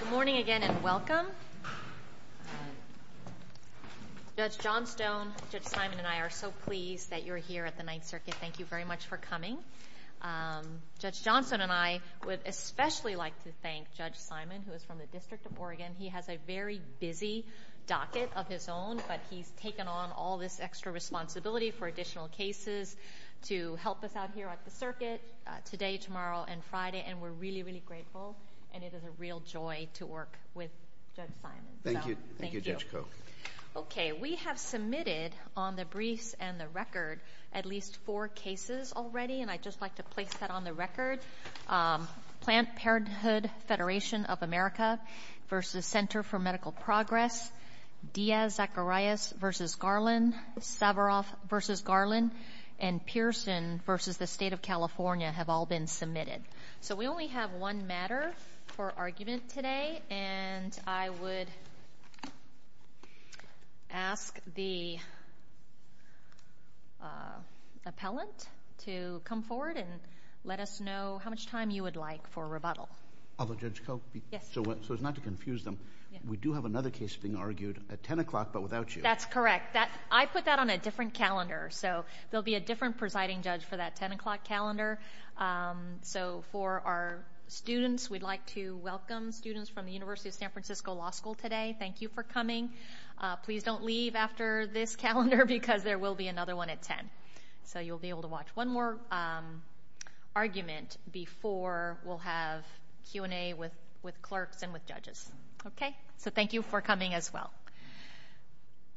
Good morning again and welcome. Judge Johnstone, Judge Simon, and I are so pleased that you're here at the Ninth Circuit. Thank you very much for coming. Judge Johnstone and I would especially like to thank Judge Simon, who is from the District of Oregon. He has a very busy docket of his own, but he's taken on all this extra responsibility for additional cases to help us out here at the Circuit today, tomorrow, and Friday, and we're really, really grateful, and it is a real joy to work with Judge Simon. Thank you. Thank you, Judge Koch. Okay. We have submitted on the briefs and the record at least four cases already, and I'd just like to place that on the record. Plant Parenthood Federation of America v. Center for Medical Progress, Diaz-Zacarias v. Garland, Savaroff v. Garland, and Pearson v. the State of California have all been submitted. So, we only have one matter for argument today, and I would ask the appellant to come forward and let us know how much time you would like for rebuttal. Although, Judge Koch, so as not to confuse them, we do have another case being argued at 10 o'clock, but without you. That's correct. I put that on a different calendar, so there'll be a different presiding judge for that 10 o'clock calendar. So, for our students, we'd like to welcome students from the University of San Francisco Law School today. Thank you for coming. Please don't leave after this calendar, because there will be another one at 10, so you'll be able to watch one more argument before we'll have Q&A with clerks and with judges. Okay? So, thank you for coming as well.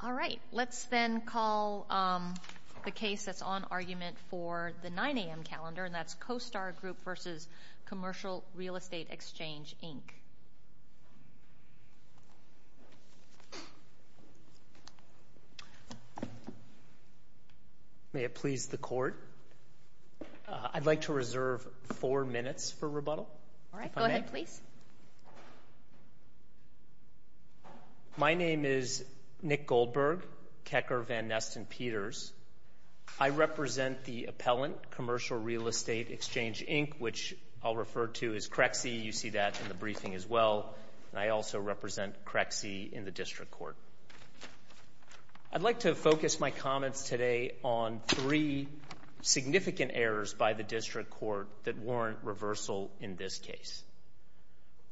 All right. Let's then call the case that's on argument for the 9 a.m. calendar, and that's CoStar Group v. Commercial Real Estate Exchange, Inc. May it please the Court? I'd like to reserve four minutes for rebuttal, if I may. All right. Go ahead, please. Thank you. My name is Nick Goldberg, Kecker Van Neston Peters. I represent the appellant, Commercial Real Estate Exchange, Inc., which I'll refer to as CREXI. You see that in the briefing as well, and I also represent CREXI in the district court. I'd like to focus my comments today on three significant errors by the district court that warrant reversal in this case.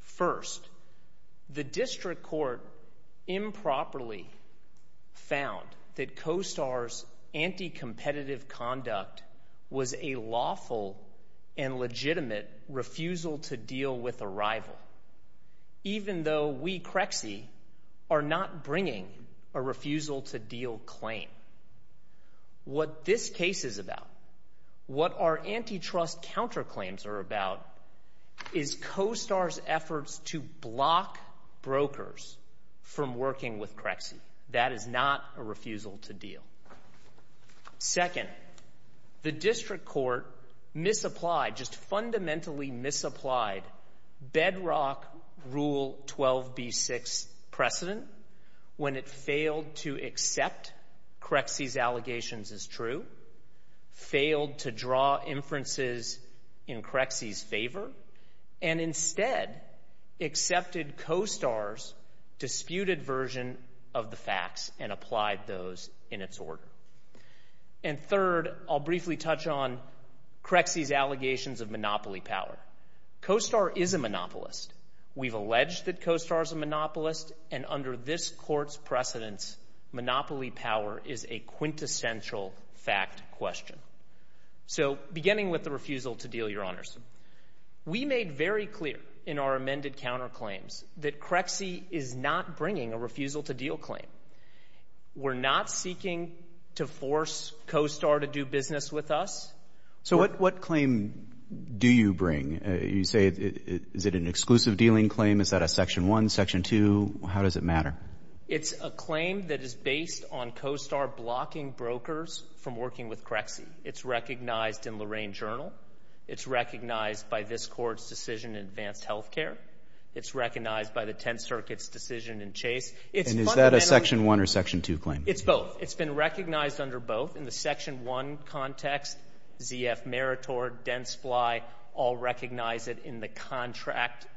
First, the district court improperly found that CoStar's anti-competitive conduct was a lawful and legitimate refusal to deal with a rival, even though we, CREXI, are not bringing a refusal-to-deal claim. Secondly, what this case is about, what our antitrust counterclaims are about, is CoStar's efforts to block brokers from working with CREXI. That is not a refusal-to-deal. Second, the district court misapplied, just fundamentally misapplied, bedrock Rule 12b6 precedent when it failed to accept CREXI's allegations as true, failed to draw inferences in CREXI's favor, and instead accepted CoStar's disputed version of the facts and applied those in its order. And third, I'll briefly touch on CREXI's allegations of monopoly power. CoStar is a monopolist. We've alleged that CoStar is a monopolist, and under this court's precedence, monopoly power is a quintessential fact question. So beginning with the refusal-to-deal, Your Honors, we made very clear in our amended counterclaims that CREXI is not bringing a refusal-to-deal claim. We're not seeking to force CoStar to do business with us. So what claim do you bring? You say, is it an exclusive-dealing claim? Is that a Section 1, Section 2? How does it matter? It's a claim that is based on CoStar blocking brokers from working with CREXI. It's recognized in Lorraine Journal. It's recognized by this court's decision in Advanced Health Care. It's recognized by the Tenth Circuit's decision in Chase. And is that a Section 1 or Section 2 claim? It's both. It's been recognized under both. In the Section 1 context, ZF Meritor, DenseFly, all recognize it in the contract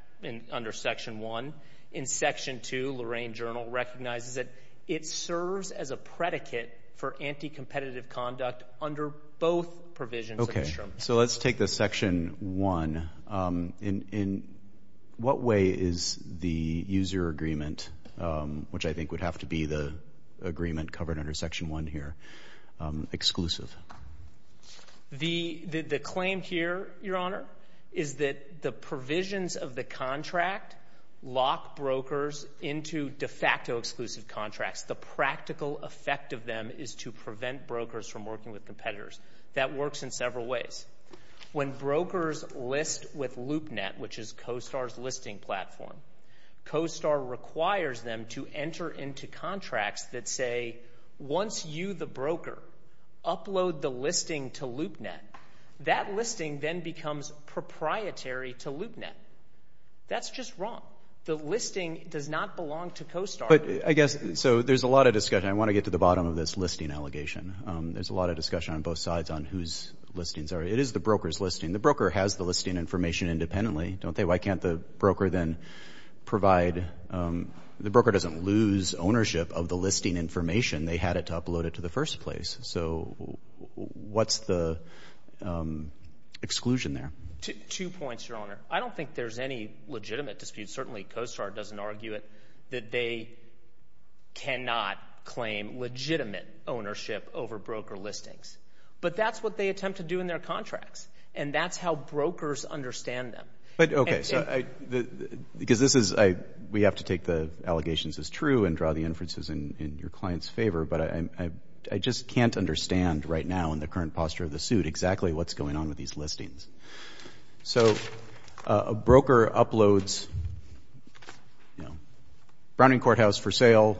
under Section 1. In Section 2, Lorraine Journal recognizes it. It serves as a predicate for anti-competitive conduct under both provisions of the term. So let's take the Section 1. In what way is the user agreement, which I think would have to be the agreement covered under Section 1 here, exclusive? The claim here, Your Honor, is that the provisions of the contract lock brokers into de facto exclusive contracts. The practical effect of them is to prevent brokers from working with competitors. That works in several ways. When brokers list with LoopNet, which is CoStar's listing platform, CoStar requires them to enter into contracts that say, once you, the broker, upload the listing to LoopNet, that listing then becomes proprietary to LoopNet. That's just wrong. The listing does not belong to CoStar. But I guess, so there's a lot of discussion. I want to get to the bottom of this listing allegation. There's a lot of discussion on both sides on whose listings are. It is the broker's listing. The broker has the listing information independently, don't they? Why can't the broker then provide, the broker doesn't lose ownership of the listing information. They had it uploaded to the first place. So what's the exclusion there? Two points, Your Honor. I don't think there's any legitimate dispute, certainly CoStar doesn't argue it, that they cannot claim legitimate ownership over broker listings. But that's what they attempt to do in their contracts. And that's how brokers understand them. But, okay, so I, because this is, we have to take the allegations as true and draw the inferences in your client's favor, but I just can't understand right now in the current posture of the suit exactly what's going on with these listings. So a broker uploads, you know, Browning Courthouse for sale.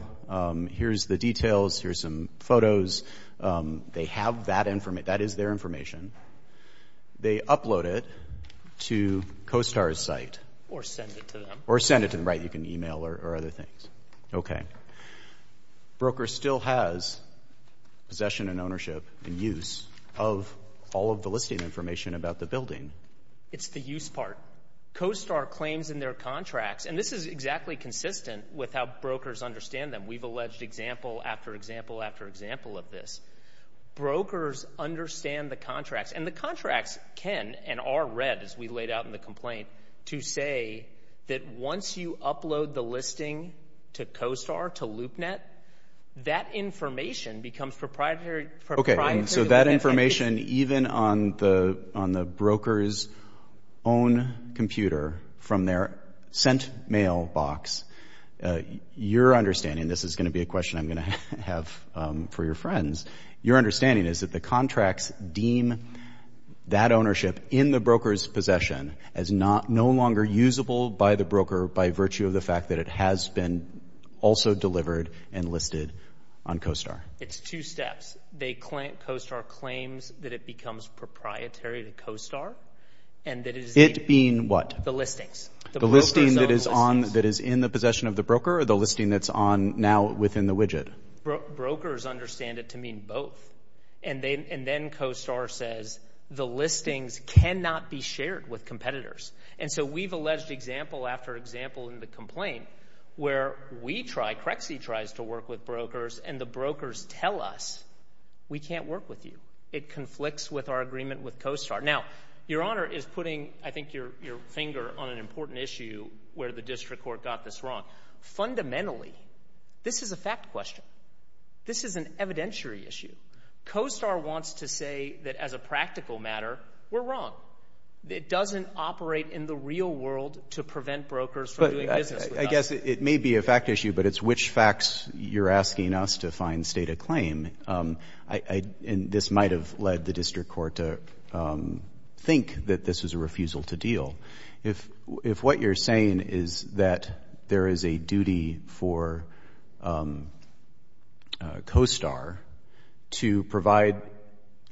Here's the details. Here's some photos. They have that information. That is their information. They upload it to CoStar's site. Or send it to them. Or send it to them. Right, you can email or other things. Okay. Broker still has possession and ownership and use of all of the listing information about the building. It's the use part. CoStar claims in their contracts, and this is exactly consistent with how brokers understand them. We've alleged example after example after example of this. Brokers understand the contracts, and the contracts can and are read, as we laid out in the complaint, to say that once you upload the listing to CoStar, to LoopNet, that information becomes proprietary. Okay. And so that information, even on the broker's own computer from their sent mail box, your understanding, this is going to be a question I'm going to have for your friends. Your understanding is that the contracts deem that ownership in the broker's possession as no longer usable by the broker by virtue of the fact that it has been also delivered and listed on CoStar. It's two steps. They claim, CoStar claims, that it becomes proprietary to CoStar. And that it is. It being what? The listings. The listings that is on, that is in the possession of the broker, or the listing that's on now within the widget? Brokers understand it to mean both. And then CoStar says, the listings cannot be shared with competitors. And so we've alleged example after example in the complaint where we try, CREXI tries to work with brokers, and the brokers tell us, we can't work with you. It conflicts with our agreement with CoStar. Now, your Honor is putting, I think, your finger on an important issue where the district court got this wrong. Fundamentally, this is a fact question. This is an evidentiary issue. CoStar wants to say that as a practical matter, we're wrong. It doesn't operate in the real world to prevent brokers from doing business with us. I guess it may be a fact issue, but it's which facts you're asking us to find state of claim. And this might have led the district court to think that this is a refusal to deal. If what you're saying is that there is a duty for CoStar to provide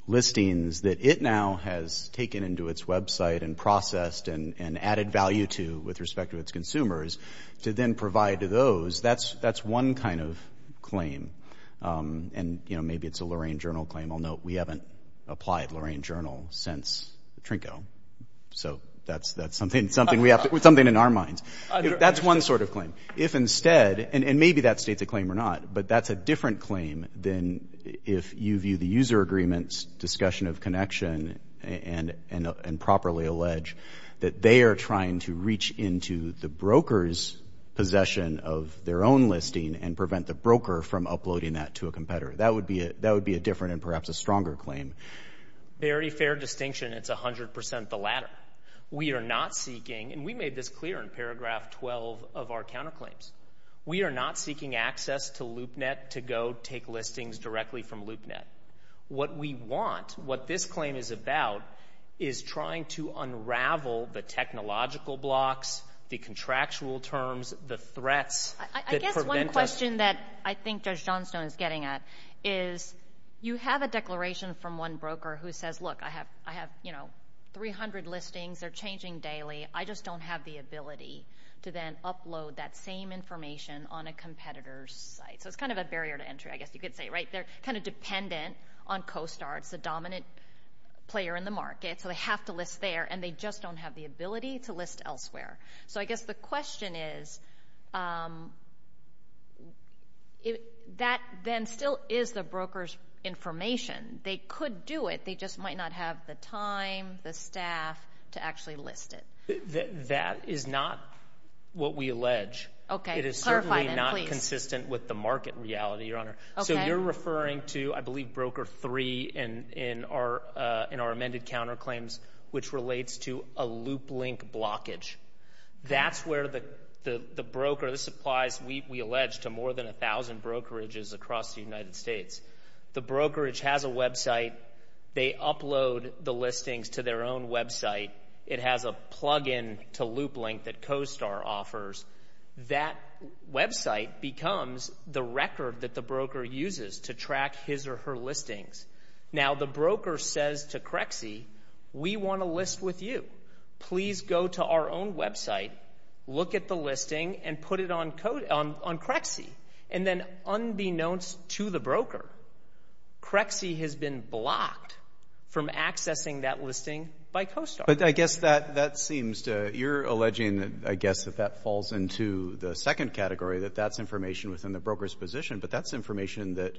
listings that it now has taken into its website and processed and added value to with respect to its consumers to then provide to those, that's one kind of claim. And maybe it's a Lorain Journal claim. I'll note we haven't applied Lorain Journal since Trinco. So that's something in our minds. That's one sort of claim. If instead, and maybe that states a claim or not, but that's a different claim than if you view the user agreements discussion of connection and properly allege that they are trying to reach into the broker's possession of their own listing and prevent the broker from uploading that to a competitor. That would be a different and perhaps a stronger claim. Very fair distinction. It's 100% the latter. We are not seeking, and we made this clear in paragraph 12 of our counterclaims. We are not seeking access to LoopNet to go take listings directly from LoopNet. What we want, what this claim is about, is trying to unravel the technological blocks, the contractual terms, the threats that prevent us. I guess one question that I think Judge Johnstone is getting at is you have a declaration from one broker who says, look, I have 300 listings, they're changing daily, I just don't have the ability to then upload that same information on a competitor's site. So it's kind of a barrier to entry, I guess you could say, right? They're kind of dependent on CoStar, it's the dominant player in the market, so they have to list there, and they just don't have the ability to list elsewhere. So I guess the question is, that then still is the broker's information. They could do it, they just might not have the time, the staff to actually list it. That is not what we allege. Okay, clarify that, please. It is certainly not consistent with the market reality, Your Honor. Okay. So you're referring to, I believe, Broker 3 in our amended counterclaims, which relates to a loop-link blockage. That's where the broker, this applies, we allege, to more than 1,000 brokerages across the United States. The brokerage has a website, they upload the listings to their own website, it has a plug-in to loop-link that CoStar offers. That website becomes the record that the broker uses to track his or her listings. Now the broker says to CREXE, we want to list with you. Please go to our own website, look at the listing, and put it on CREXE. And then unbeknownst to the broker, CREXE has been blocked from accessing that listing by CoStar. But I guess that seems to, you're alleging, I guess, that that falls into the second category, that that's information within the broker's position, but that's information that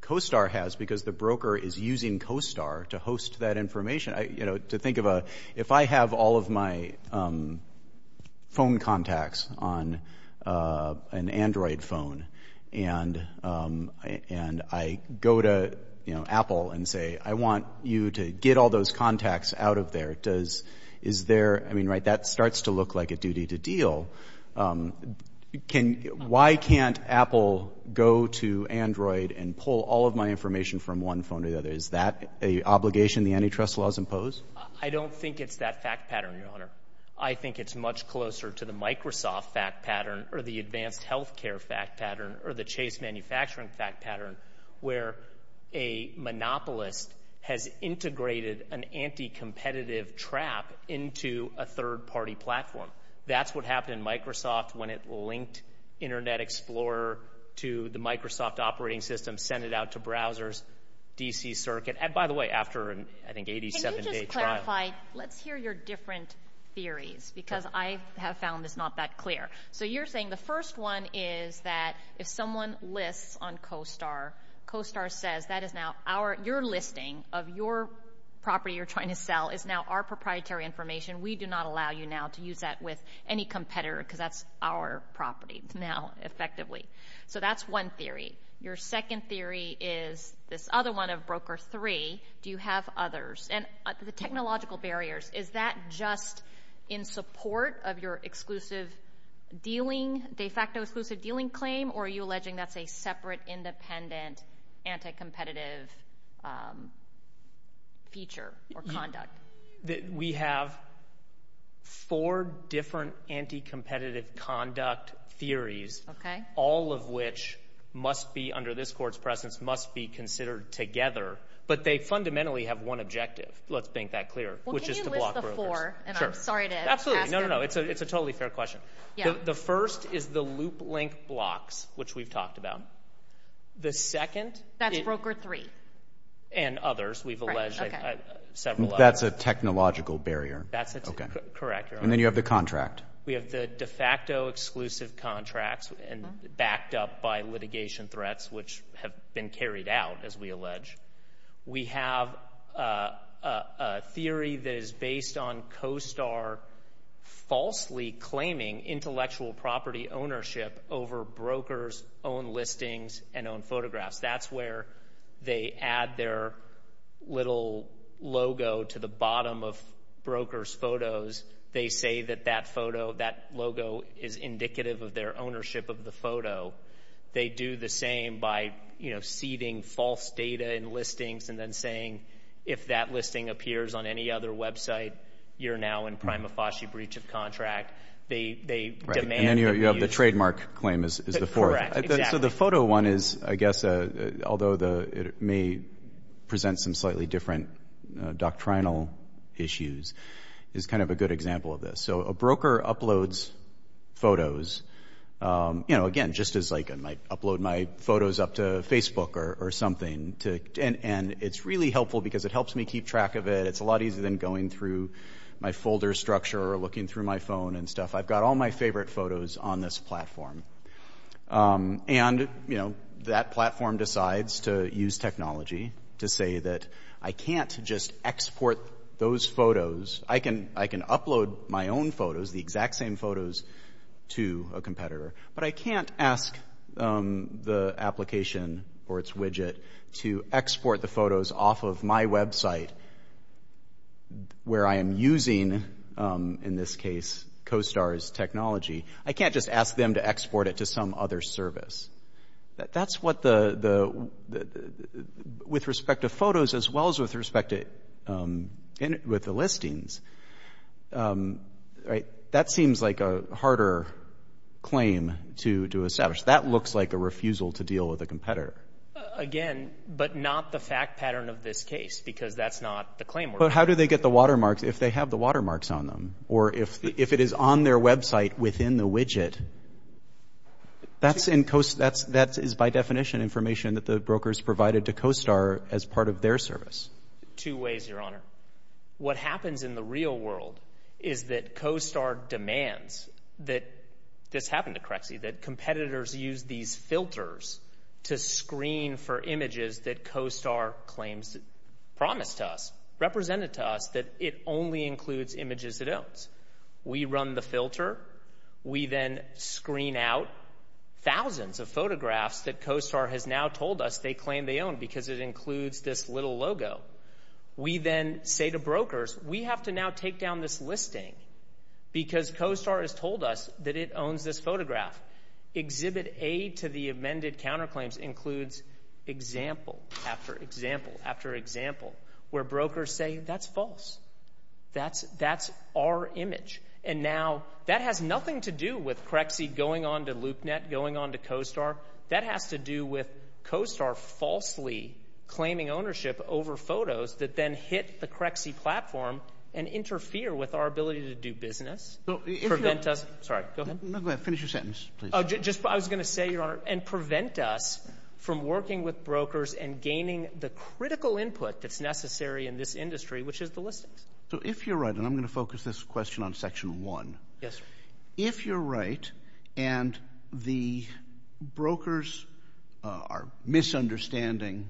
CoStar has because the broker is using CoStar to host that information. To think of a, if I have all of my phone contacts on an Android phone, and I go to Apple and say, I want you to get all those contacts out of there, does, is there, I mean, right, that starts to look like a duty to deal. Why can't Apple go to Android and pull all of my information from one phone to the other? Is that an obligation the antitrust laws impose? I don't think it's that fact pattern, Your Honor. I think it's much closer to the Microsoft fact pattern, or the advanced healthcare fact pattern, or the Chase manufacturing fact pattern, where a monopolist has integrated an anti-competitive trap into a third-party platform. That's what happened in Microsoft when it linked Internet Explorer to the Microsoft operating system, sent it out to browsers, DC Circuit, and by the way, after an, I think, 87-day trial. Can you just clarify, let's hear your different theories, because I have found this not that clear. So you're saying the first one is that if someone lists on CoStar, CoStar says that is now our, your listing of your property you're trying to sell is now our proprietary information. We do not allow you now to use that with any competitor, because that's our property now, effectively. So that's one theory. Your second theory is this other one of Broker 3. Do you have others? And the technological barriers, is that just in support of your exclusive dealing, de facto exclusive dealing claim, or are you alleging that's a separate, independent, anti-competitive feature or conduct? We have four different anti-competitive conduct theories, all of which must be, under this court's presence, must be considered together, but they fundamentally have one objective, let's make that clear, which is to block brokers. Well, can you list the four? Sure. And I'm sorry to ask it. Absolutely. No, no, no. It's a totally fair question. Yeah. The first is the loop-link blocks, which we've talked about. The second... That's Broker 3. And others, we've alleged several others. That's a technological barrier. That's a... Correct. And then you have the contract. We have the de facto exclusive contracts backed up by litigation threats, which have been carried out, as we allege. We have a theory that is based on CoStar falsely claiming intellectual property ownership over brokers' own listings and own photographs. That's where they add their little logo to the bottom of brokers' photos. They say that that photo, that logo, is indicative of their ownership of the photo. They do the same by seeding false data in listings and then saying, if that listing appears on any other website, you're now in prima facie breach of contract. They demand... And then you have the trademark claim is the fourth. Correct. Exactly. So the photo one is, I guess, although it may present some slightly different doctrinal issues, is kind of a good example of this. So a broker uploads photos, you know, again, just as I might upload my photos up to Facebook or something. And it's really helpful because it helps me keep track of it. It's a lot easier than going through my folder structure or looking through my phone and stuff. I've got all my favorite photos on this platform. And that platform decides to use technology to say that I can't just export those photos. I can upload my own photos, the exact same photos, to a competitor. But I can't ask the application or its widget to export the photos off of my website where I am using, in this case, CoStar's technology. I can't just ask them to export it to some other service. That's what the... With respect to photos, as well as with respect to... With the listings, right? That seems like a harder claim to establish. That looks like a refusal to deal with a competitor. Again, but not the fact pattern of this case, because that's not the claim. But how do they get the watermarks if they have the watermarks on them? Or if it is on their website within the widget, that is by definition information that the brokers provided to CoStar as part of their service. Two ways, Your Honor. What happens in the real world is that CoStar demands that... This happened to Crexie, that competitors use these filters to screen for images that CoStar claims, promised to us, represented to us that it only includes images it owns. We run the filter. We then screen out thousands of photographs that CoStar has now told us they claim they own because it includes this little logo. We then say to brokers, we have to now take down this listing because CoStar has told us that it owns this photograph. Exhibit A to the amended counterclaims includes example after example after example where brokers say, that's false. That's our image. And now, that has nothing to do with Crexie going on to LoopNet, going on to CoStar. That has to do with CoStar falsely claiming ownership over photos that then hit the Crexie platform and interfere with our ability to do business, prevent us... Sorry, go ahead. No, go ahead. Finish your sentence, please. Just, I was going to say, Your Honor, and prevent us from working with brokers and gaining the critical input that's necessary in this industry, which is the listings. So, if you're right, and I'm going to focus this question on section one. Yes, sir. If you're right and the brokers are misunderstanding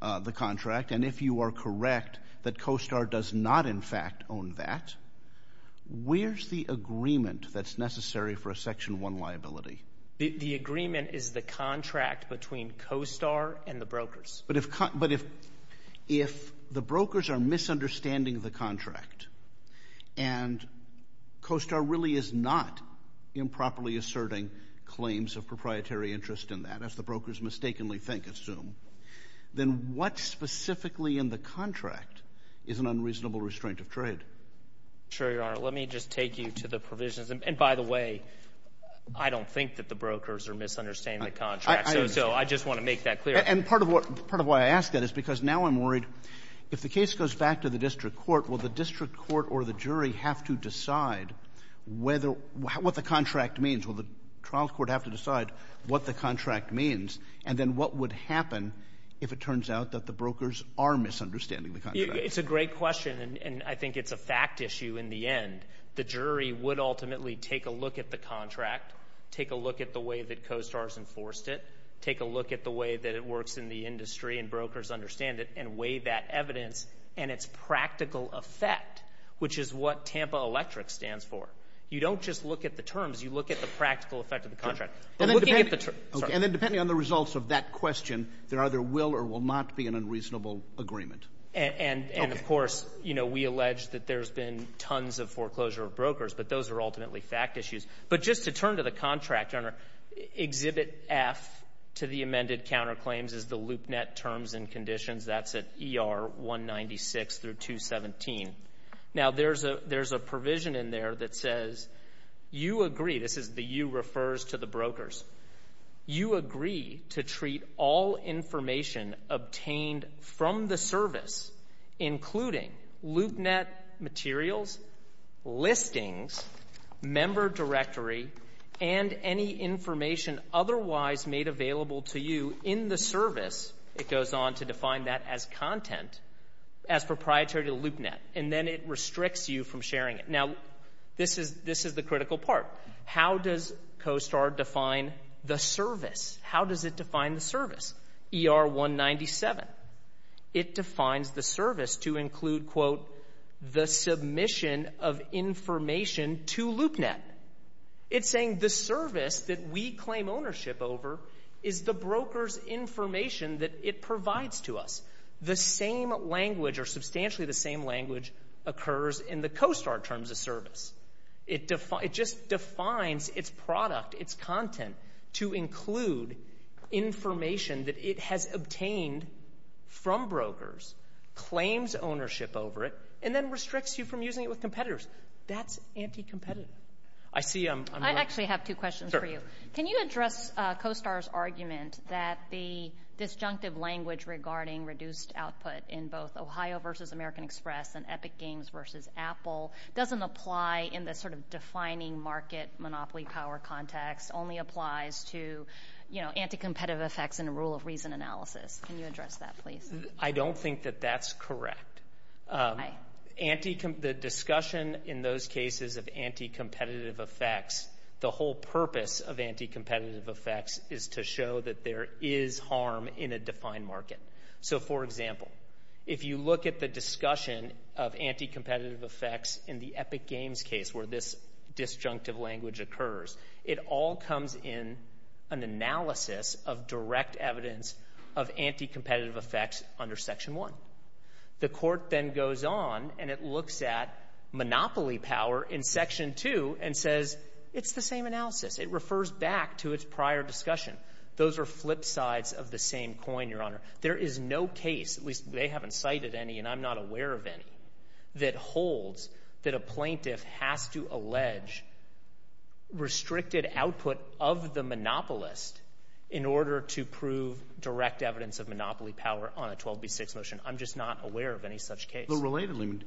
the contract and if you are correct that CoStar does not in fact own that, where's the agreement that's necessary for a section one liability? The agreement is the contract between CoStar and the brokers. But if the brokers are misunderstanding the contract and CoStar really is not improperly asserting claims of proprietary interest in that, as the brokers mistakenly think, assume, then what specifically in the contract is an unreasonable restraint of trade? Sure, Your Honor. Let me just take you to the provisions. And by the way, I don't think that the brokers are misunderstanding the contract. So I just want to make that clear. And part of why I ask that is because now I'm worried if the case goes back to the district court, will the district court or the jury have to decide what the contract means? Will the trial court have to decide what the contract means? And then what would happen if it turns out that the brokers are misunderstanding the contract? It's a great question and I think it's a fact issue in the end. The jury would ultimately take a look at the contract, take a look at the way that CoStar has enforced it, take a look at the way that it works in the industry and brokers understand it and weigh that evidence and its practical effect, which is what Tampa Electric stands for. You don't just look at the terms, you look at the practical effect of the contract. And then depending on the results of that question, there either will or will not be an unreasonable agreement. And of course, you know, we allege that there's been tons of foreclosure of brokers, but those are ultimately fact issues. But just to turn to the contract, Your Honor, Exhibit F to the amended counterclaims is the loop net terms and conditions. That's at ER 196 through 217. Now there's a provision in there that says you agree. This is the you refers to the brokers. You agree to treat all information obtained from the service, including loop net materials, listings, member directory, and any information otherwise made available to you in the service. It goes on to define that as content as proprietary to loop net and then it restricts you from sharing it. Now, this is the critical part. How does COSTAR define the service? How does it define the service, ER 197? It defines the service to include, quote, the submission of information to loop net. It's saying the service that we claim ownership over is the broker's information that it provides to us. The same language or substantially the same language occurs in the COSTAR terms of service. It just defines its product, its content, to include information that it has obtained from brokers, claims ownership over it, and then restricts you from using it with competitors. That's anti-competitive. I see I'm— I actually have two questions for you. Can you address COSTAR's argument that the disjunctive language regarding reduced output in both Ohio versus American Express and Epic Games versus Apple doesn't apply in the sort of defining market monopoly power context, only applies to, you know, anti-competitive effects and rule of reason analysis? Can you address that, please? I don't think that that's correct. The discussion in those cases of anti-competitive effects, the whole purpose of anti-competitive effects is to show that there is harm in a defined market. So for example, if you look at the discussion of anti-competitive effects in the Epic Games case where this disjunctive language occurs, it all comes in an analysis of direct evidence of anti-competitive effects under Section 1. The court then goes on and it looks at monopoly power in Section 2 and says, it's the same analysis. It refers back to its prior discussion. Those are flip sides of the same coin, Your Honor. There is no case, at least they haven't cited any and I'm not aware of any, that holds that a plaintiff has to allege restricted output of the monopolist in order to prove direct evidence of monopoly power on a 12B6 motion. I'm just not aware of any such case. Relatedly,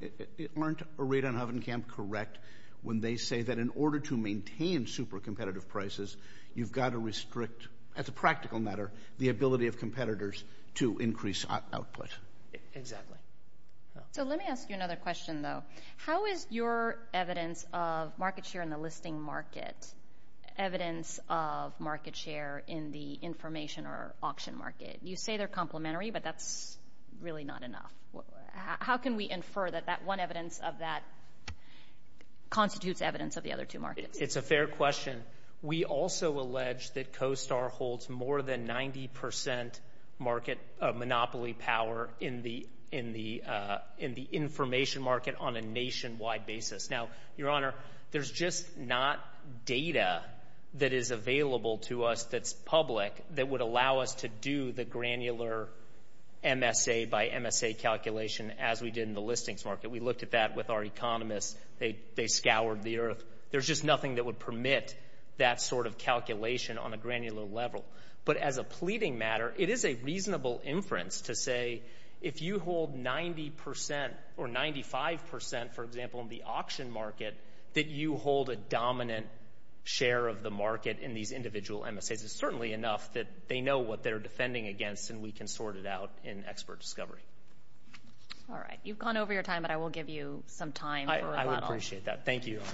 aren't Arita and Huffenkamp correct when they say that in order to maintain super competitive prices, you've got to restrict, as a practical matter, the ability of competitors to increase output? Exactly. So let me ask you another question, though. How is your evidence of market share in the listing market, evidence of market share in the information or auction market? You say they're complementary, but that's really not enough. How can we infer that that one evidence of that constitutes evidence of the other two markets? It's a fair question. We also allege that CoStar holds more than 90 percent market monopoly power in the information market on a nationwide basis. Now, Your Honor, there's just not data that is available to us that's public that would allow us to do the granular MSA by MSA calculation as we did in the listings market. We looked at that with our economists. They scoured the earth. There's just nothing that would permit that sort of calculation on a granular level. But as a pleading matter, it is a reasonable inference to say if you hold 90 percent or 95 percent, for example, in the auction market, that you hold a dominant share of the market in these individual MSAs. It's certainly enough that they know what they're defending against, and we can sort it out in expert discovery. All right. You've gone over your time, but I will give you some time for rebuttal. I would appreciate that. Thank you, Your Honor.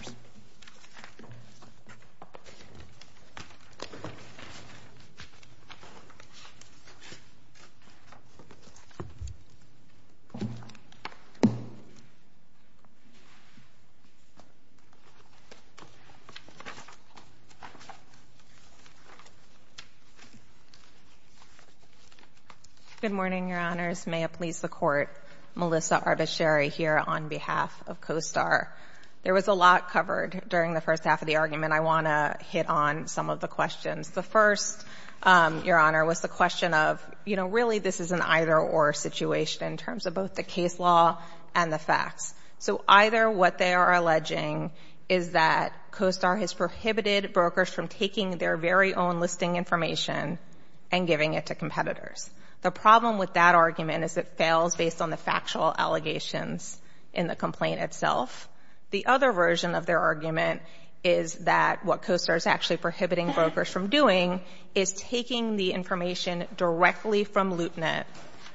Good morning, Your Honors. May it please the Court, Melissa Arbacheri here on behalf of CoStar. There was a lot covered during the first half of the argument. I want to hit on some of the questions. The first, Your Honor, was the question of, you know, really this is an either-or situation in terms of both the case law and the facts. So either what they are alleging is that CoStar has prohibited brokers from taking their very own listing information and giving it to competitors. The problem with that argument is it fails based on the factual allegations in the complaint itself. The other version of their argument is that what CoStar is actually prohibiting brokers from doing is taking the information directly from LoopNet,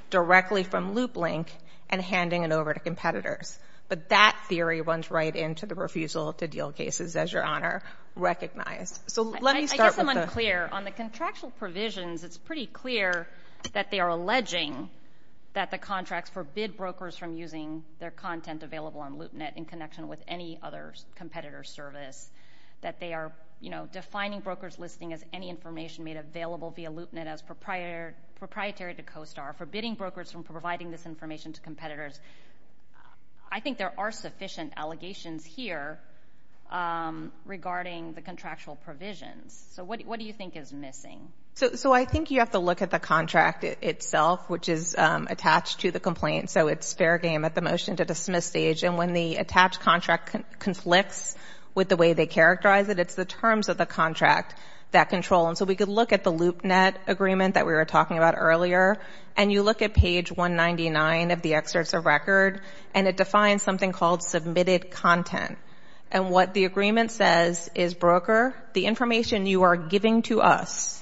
directly from LoopLink, and handing it over to competitors. But that theory runs right into the refusal to deal cases, as Your Honor recognized. So let me start with the— I guess I'm unclear. On the contractual provisions, it's pretty clear that they are alleging that the contracts forbid brokers from using their content available on LoopNet in connection with any other competitor's service, that they are, you know, defining brokers' listing as any information made available via LoopNet as proprietary to CoStar, forbidding brokers from providing this information to competitors. I think there are sufficient allegations here regarding the contractual provisions. So what do you think is missing? So I think you have to look at the contract itself, which is attached to the complaint. So it's fair game at the motion-to-dismiss stage. And when the attached contract conflicts with the way they characterize it, it's the terms of the contract that control. And so we could look at the LoopNet agreement that we were talking about earlier, and you look at page 199 of the excerpts of record, and it defines something called submitted content. And what the agreement says is, broker, the information you are giving to us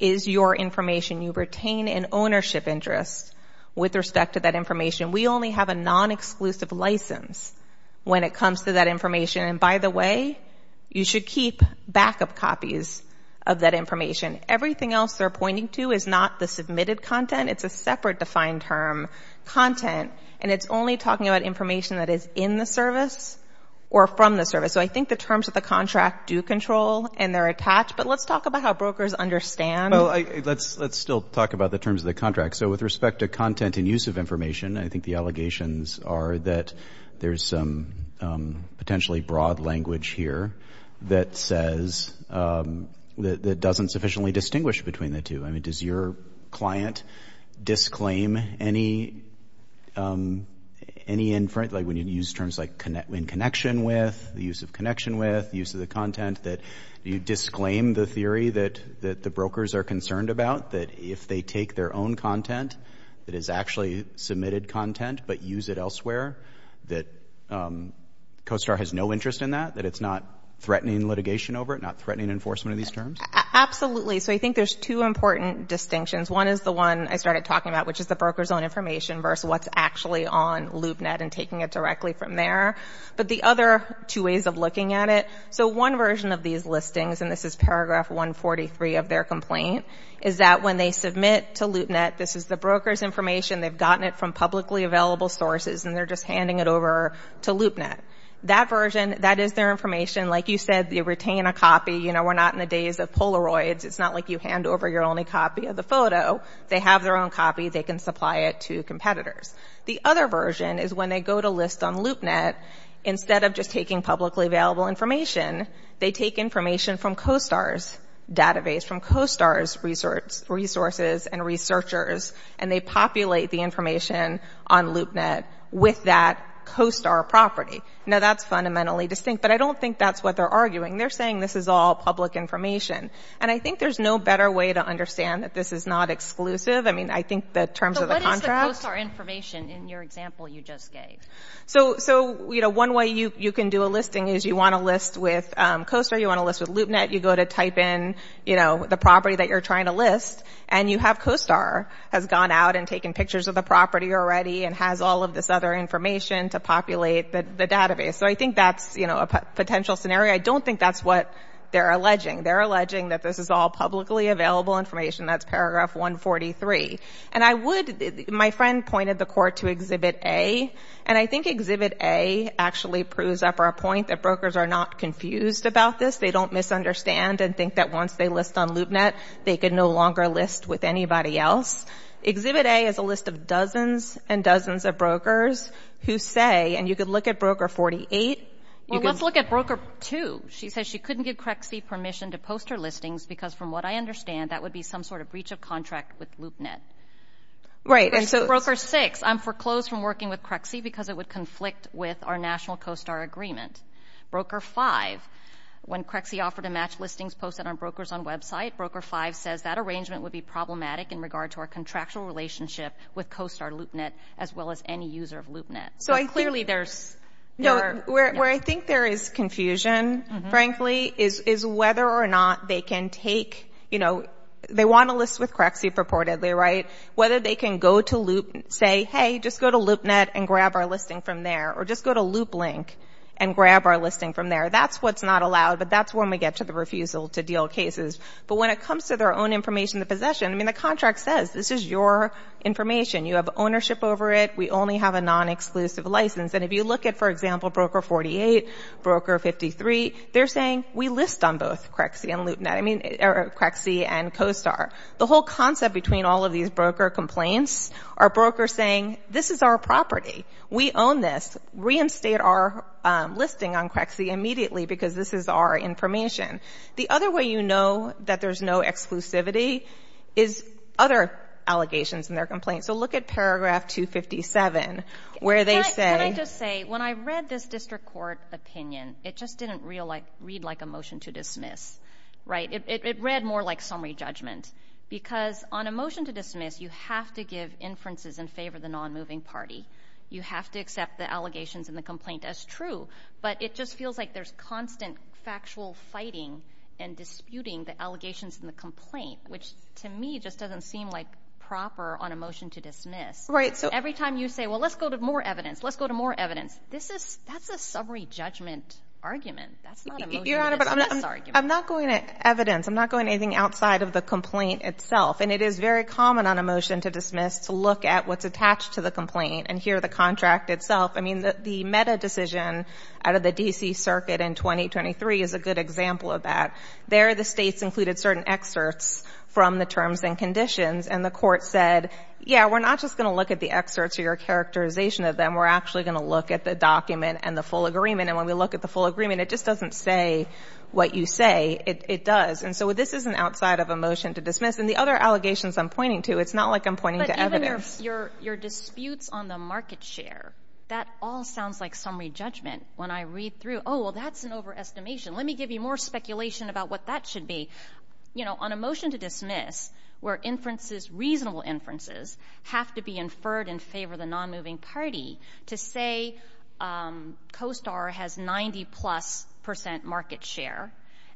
is your information. You retain an ownership interest with respect to that information. We only have a non-exclusive license when it comes to that information. And by the way, you should keep backup copies of that information. Everything else they're pointing to is not the submitted content. It's a separate defined term, content, and it's only talking about information that is in the service or from the service. So I think the terms of the contract do control and they're attached, but let's talk about how brokers understand. Let's still talk about the terms of the contract. So with respect to content and use of information, I think the allegations are that there's some potentially broad language here that says, that doesn't sufficiently distinguish between the two. I mean, does your client disclaim any inference, like when you use terms like in connection with, the use of connection with, the use of the content, that you disclaim the theory that the brokers are concerned about, that if they take their own content that is actually submitted content, but use it elsewhere, that COSTAR has no interest in that, that it's not threatening litigation over it, not threatening enforcement of these terms? Absolutely. So I think there's two important distinctions. One is the one I started talking about, which is the broker's own information versus what's actually on LoopNet and taking it directly from there. But the other two ways of looking at it, so one version of these listings, and this is paragraph 143 of their complaint, is that when they submit to LoopNet, this is the broker's information, they've gotten it from publicly available sources, and they're just handing it over to LoopNet. That version, that is their information. Like you said, they retain a copy. You know, we're not in the days of Polaroids. It's not like you hand over your only copy of the photo. They have their own copy. They can supply it to competitors. The other version is when they go to list on LoopNet, instead of just taking publicly available information, they take information from COSTAR's database, from COSTAR's resources and researchers, and they populate the information on LoopNet with that COSTAR property. Now that's fundamentally distinct, but I don't think that's what they're arguing. They're saying this is all public information. And I think there's no better way to understand that this is not exclusive. I mean, I think that in terms of the contract— So what is the COSTAR information in your example you just gave? So, you know, one way you can do a listing is you want to list with COSTAR, you want to list with LoopNet, you go to type in, you know, the property that you're trying to list, and you have COSTAR has gone out and taken pictures of the property already and has all of this other information to populate the database. So I think that's, you know, a potential scenario. I don't think that's what they're alleging. They're alleging that this is all publicly available information. That's paragraph 143. And I would—my friend pointed the court to Exhibit A, and I think Exhibit A actually proves up our point that brokers are not confused about this. They don't misunderstand and think that once they list on LoopNet, they could no longer list with anybody else. Exhibit A is a list of dozens and dozens of brokers who say—and you could look at Broker 48. Well, let's look at Broker 2. She says she couldn't give CREXI permission to post her listings because from what I understand, that would be some sort of breach of contract with LoopNet. Right. And so— Broker 6, I'm foreclosed from working with CREXI because it would conflict with our national COSTAR agreement. Broker 5, when CREXI offered to match listings posted on brokers on website, Broker 5 says that arrangement would be problematic in regard to our contractual relationship with COSTAR LoopNet as well as any user of LoopNet. So clearly there's— No, where I think there is confusion, frankly, is whether or not they can take—you know, they want to list with CREXI purportedly, right? Whether they can go to Loop—say, hey, just go to LoopNet and grab our listing from there or just go to LoopLink and grab our listing from there. That's what's not allowed, but that's when we get to the refusal to deal cases. But when it comes to their own information, the possession, I mean, the contract says this is your information. You have ownership over it. We only have a non-exclusive license. And if you look at, for example, Broker 48, Broker 53, they're saying we list on both CREXI and LoopNet—I mean, CREXI and COSTAR. The whole concept between all of these broker complaints are brokers saying this is our property. We own this. Reinstate our listing on CREXI immediately because this is our information. The other way you know that there's no exclusivity is other allegations in their complaints. So look at paragraph 257, where they say— Can I just say, when I read this district court opinion, it just didn't read like a motion to dismiss, right? It read more like summary judgment because on a motion to dismiss, you have to give inferences in favor of the non-moving party. You have to accept the allegations in the complaint as true, but it just feels like there's constant factual fighting and disputing the allegations in the complaint, which to me just doesn't seem like proper on a motion to dismiss. Right. So every time you say, well, let's go to more evidence, let's go to more evidence, this is—that's a summary judgment argument. That's not a motion to dismiss argument. Your Honor, but I'm not going to evidence. I'm not going to anything outside of the complaint itself, and it is very common on a motion to dismiss to look at what's attached to the complaint and hear the contract itself. I mean, the meta decision out of the D.C. Circuit in 2023 is a good example of that. There, the states included certain excerpts from the terms and conditions, and the court said, yeah, we're not just going to look at the excerpts or your characterization of them. We're actually going to look at the document and the full agreement, and when we look at the full agreement, it just doesn't say what you say. It does. And so this isn't outside of a motion to dismiss. And the other allegations I'm pointing to, it's not like I'm pointing to evidence. But even your disputes on the market share, that all sounds like summary judgment. When I read through, oh, well, that's an overestimation. Let me give you more speculation about what that should be. You know, on a motion to dismiss, where inferences, reasonable inferences, have to be inferred in favor of the nonmoving party to say COSTAR has 90-plus percent market share,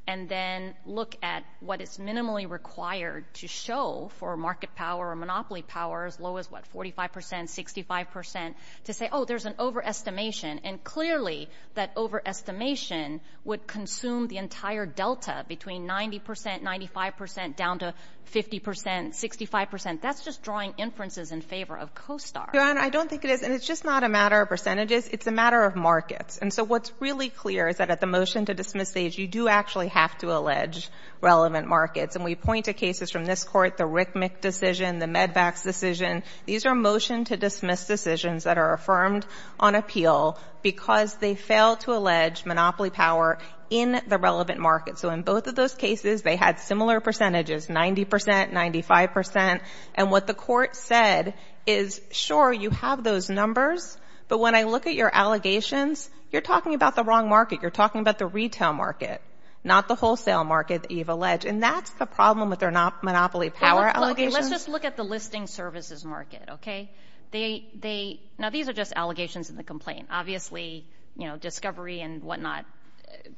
and then look at what is minimally required to show for market power or monopoly power as low as, what, 45 percent, 65 percent, to say, oh, there's an overestimation. And clearly, that overestimation would consume the entire delta between 90 percent, 95 percent, down to 50 percent, 65 percent. That's just drawing inferences in favor of COSTAR. Your Honor, I don't think it is. And it's just not a matter of percentages. It's a matter of markets. And so what's really clear is that at the motion to dismiss stage, you do actually have to allege relevant markets. And we point to cases from this Court, the Rickmick decision, the Medvax decision. These are motion to dismiss decisions that are affirmed on appeal because they fail to allege monopoly power in the relevant market. So in both of those cases, they had similar percentages, 90 percent, 95 percent. And what the Court said is, sure, you have those numbers. But when I look at your allegations, you're talking about the wrong market. You're talking about the retail market, not the wholesale market that you've alleged. And that's the problem with their monopoly power allegations. Let's just look at the listing services market, okay? Now these are just allegations in the complaint. Obviously, you know, discovery and whatnot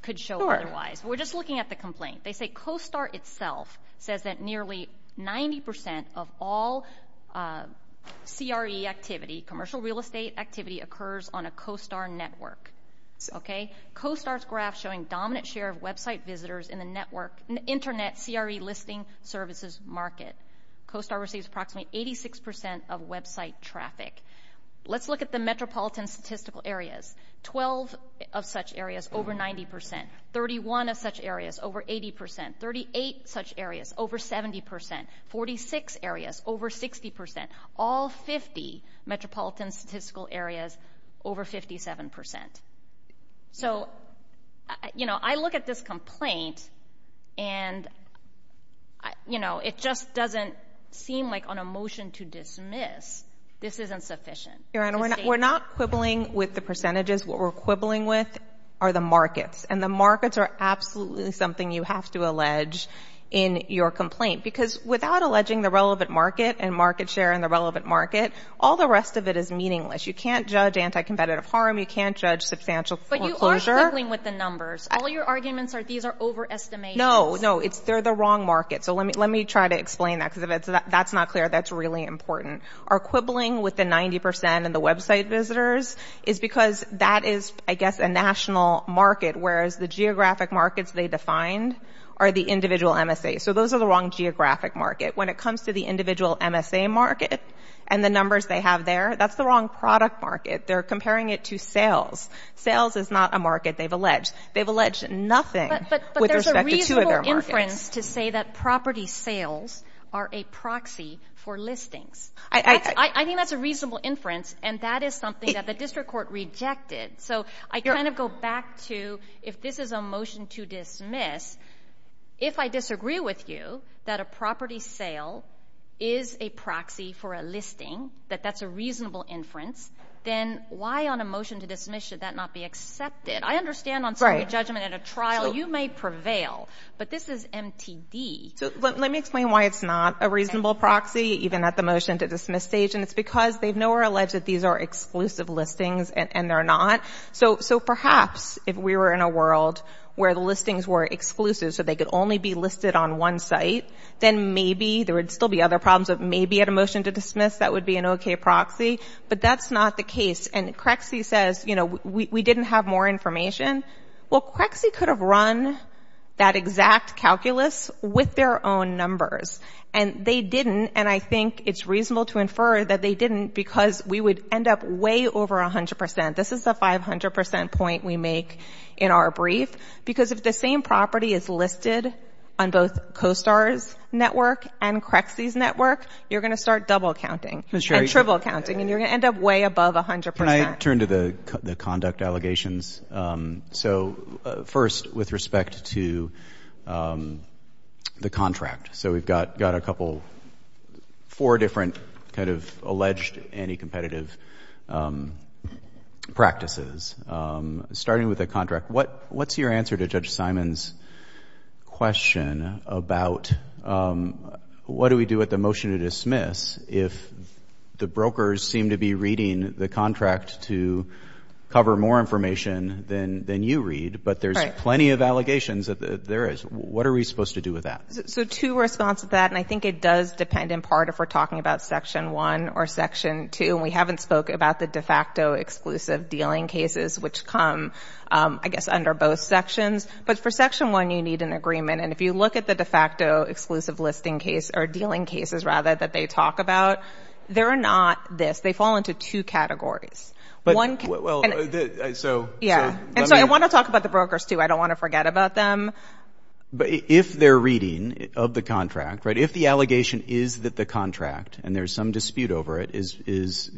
could show otherwise. We're just looking at the complaint. They say COSTAR itself says that nearly 90 percent of all CRE activity, commercial real estate activity, occurs on a COSTAR network, okay? COSTAR's graph showing dominant share of website visitors in the network, internet CRE listing services market. COSTAR receives approximately 86 percent of website traffic. Let's look at the metropolitan statistical areas. Twelve of such areas, over 90 percent. Thirty-one of such areas, over 80 percent. Thirty-eight such areas, over 70 percent. Forty-six areas, over 60 percent. All 50 metropolitan statistical areas, over 57 percent. So, you know, I look at this complaint and, you know, it just doesn't seem like on a motion to dismiss, this isn't sufficient. Your Honor, we're not quibbling with the percentages. What we're quibbling with are the markets. And the markets are absolutely something you have to allege in your complaint. Because without alleging the relevant market and market share in the relevant market, all the rest of it is meaningless. You can't judge anti-competitive harm. You can't judge substantial foreclosure. But you are quibbling with the numbers. All your arguments are these are overestimations. No. No. They're the wrong markets. So, let me try to explain that. Because if that's not clear, that's really important. Our quibbling with the 90 percent and the website visitors is because that is, I guess, a national market, whereas the geographic markets they defined are the individual MSA. So, those are the wrong geographic market. When it comes to the individual MSA market and the numbers they have there, that's the wrong product market. They're comparing it to sales. Sales is not a market they've alleged. They've alleged nothing with respect to two of their markets. But there's a reasonable inference to say that property sales are a proxy for listings. I think that's a reasonable inference. And that is something that the district court rejected. So, I kind of go back to if this is a motion to dismiss, if I disagree with you that a motion to dismiss should not be accepted. I understand on jury judgment at a trial you may prevail. But this is MTD. So, let me explain why it's not a reasonable proxy even at the motion to dismiss stage. And it's because they've nowhere alleged that these are exclusive listings and they're not. So, perhaps if we were in a world where the listings were exclusive so they could only be listed on one site, then maybe there would still be other problems. But maybe at a motion to dismiss, that would be an okay proxy. But that's not the case. And CREXI says, you know, we didn't have more information. Well, CREXI could have run that exact calculus with their own numbers. And they didn't. And I think it's reasonable to infer that they didn't because we would end up way over 100%. This is the 500% point we make in our brief. Because if the same property is listed on both COSTAR's network and CREXI's network, you're going to start double counting. And triple counting. And you're going to end up way above 100%. Can I turn to the conduct allegations? So, first, with respect to the contract. So, we've got a couple, four different kind of alleged anti-competitive practices. Starting with the contract, what's your answer to Judge Simon's question about what do we do with the motion to dismiss if the brokers seem to be reading the contract to cover more information than you read. But there's plenty of allegations that there is. What are we supposed to do with that? So, two responses to that. And I think it does depend in part if we're talking about Section 1 or Section 2. And we haven't spoke about the de facto exclusive dealing cases, which come, I guess, under both sections. But for Section 1, you need an agreement. And if you look at the de facto exclusive listing case, or dealing cases, rather, that they talk about, they're not this. They fall into two categories. One category. And so, I want to talk about the brokers, too. I don't want to forget about them. But if they're reading of the contract, right? If the allegation is that the contract, and there's some dispute over it, is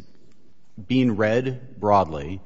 being read broadly,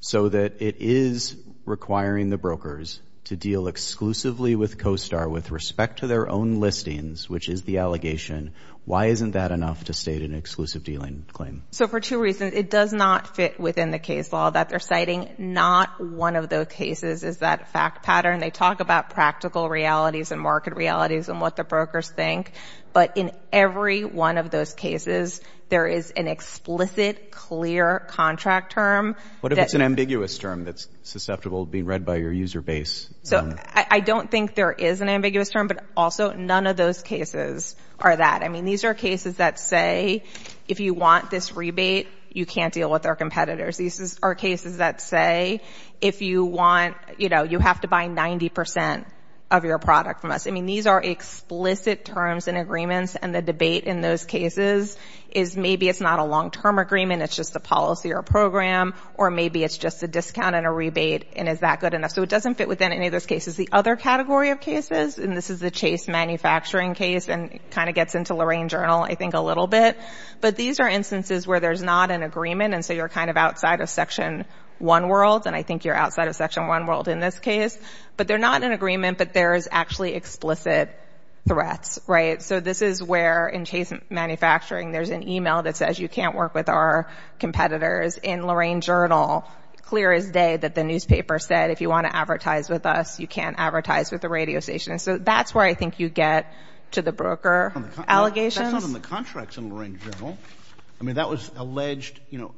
so that it is requiring the brokers to deal exclusively with CoSTAR with respect to their own listings, which is the allegation. Why isn't that enough to state an exclusive dealing claim? So, for two reasons. It does not fit within the case law that they're citing. Not one of those cases is that fact pattern. They talk about practical realities and market realities and what the brokers think. But in every one of those cases, there is an explicit, clear contract term. What if it's an ambiguous term that's susceptible to being read by your user base? So, I don't think there is an ambiguous term, but also, none of those cases are that. I mean, these are cases that say, if you want this rebate, you can't deal with our competitors. These are cases that say, if you want, you know, you have to buy 90% of your product from us. I mean, these are explicit terms and agreements, and the debate in those cases is maybe it's not a long-term agreement, it's just a policy or a program, or maybe it's just a discount and a rebate, and is that good enough? So, it doesn't fit within any of those cases. The other category of cases, and this is the Chase Manufacturing case, and it kind of gets into Lorraine Journal, I think, a little bit. But these are instances where there's not an agreement, and so you're kind of outside of Section 1 world, and I think you're outside of Section 1 world in this case. But they're not in agreement, but there is actually explicit threats, right? So, this is where, in Chase Manufacturing, there's an email that says, you can't work with our competitors. In Lorraine Journal, clear as day that the newspaper said, if you want to advertise with us, you can't advertise with the radio station. So, that's where I think you get to the broker allegations. That's not in the contracts in Lorraine Journal. I mean, that was alleged, you know,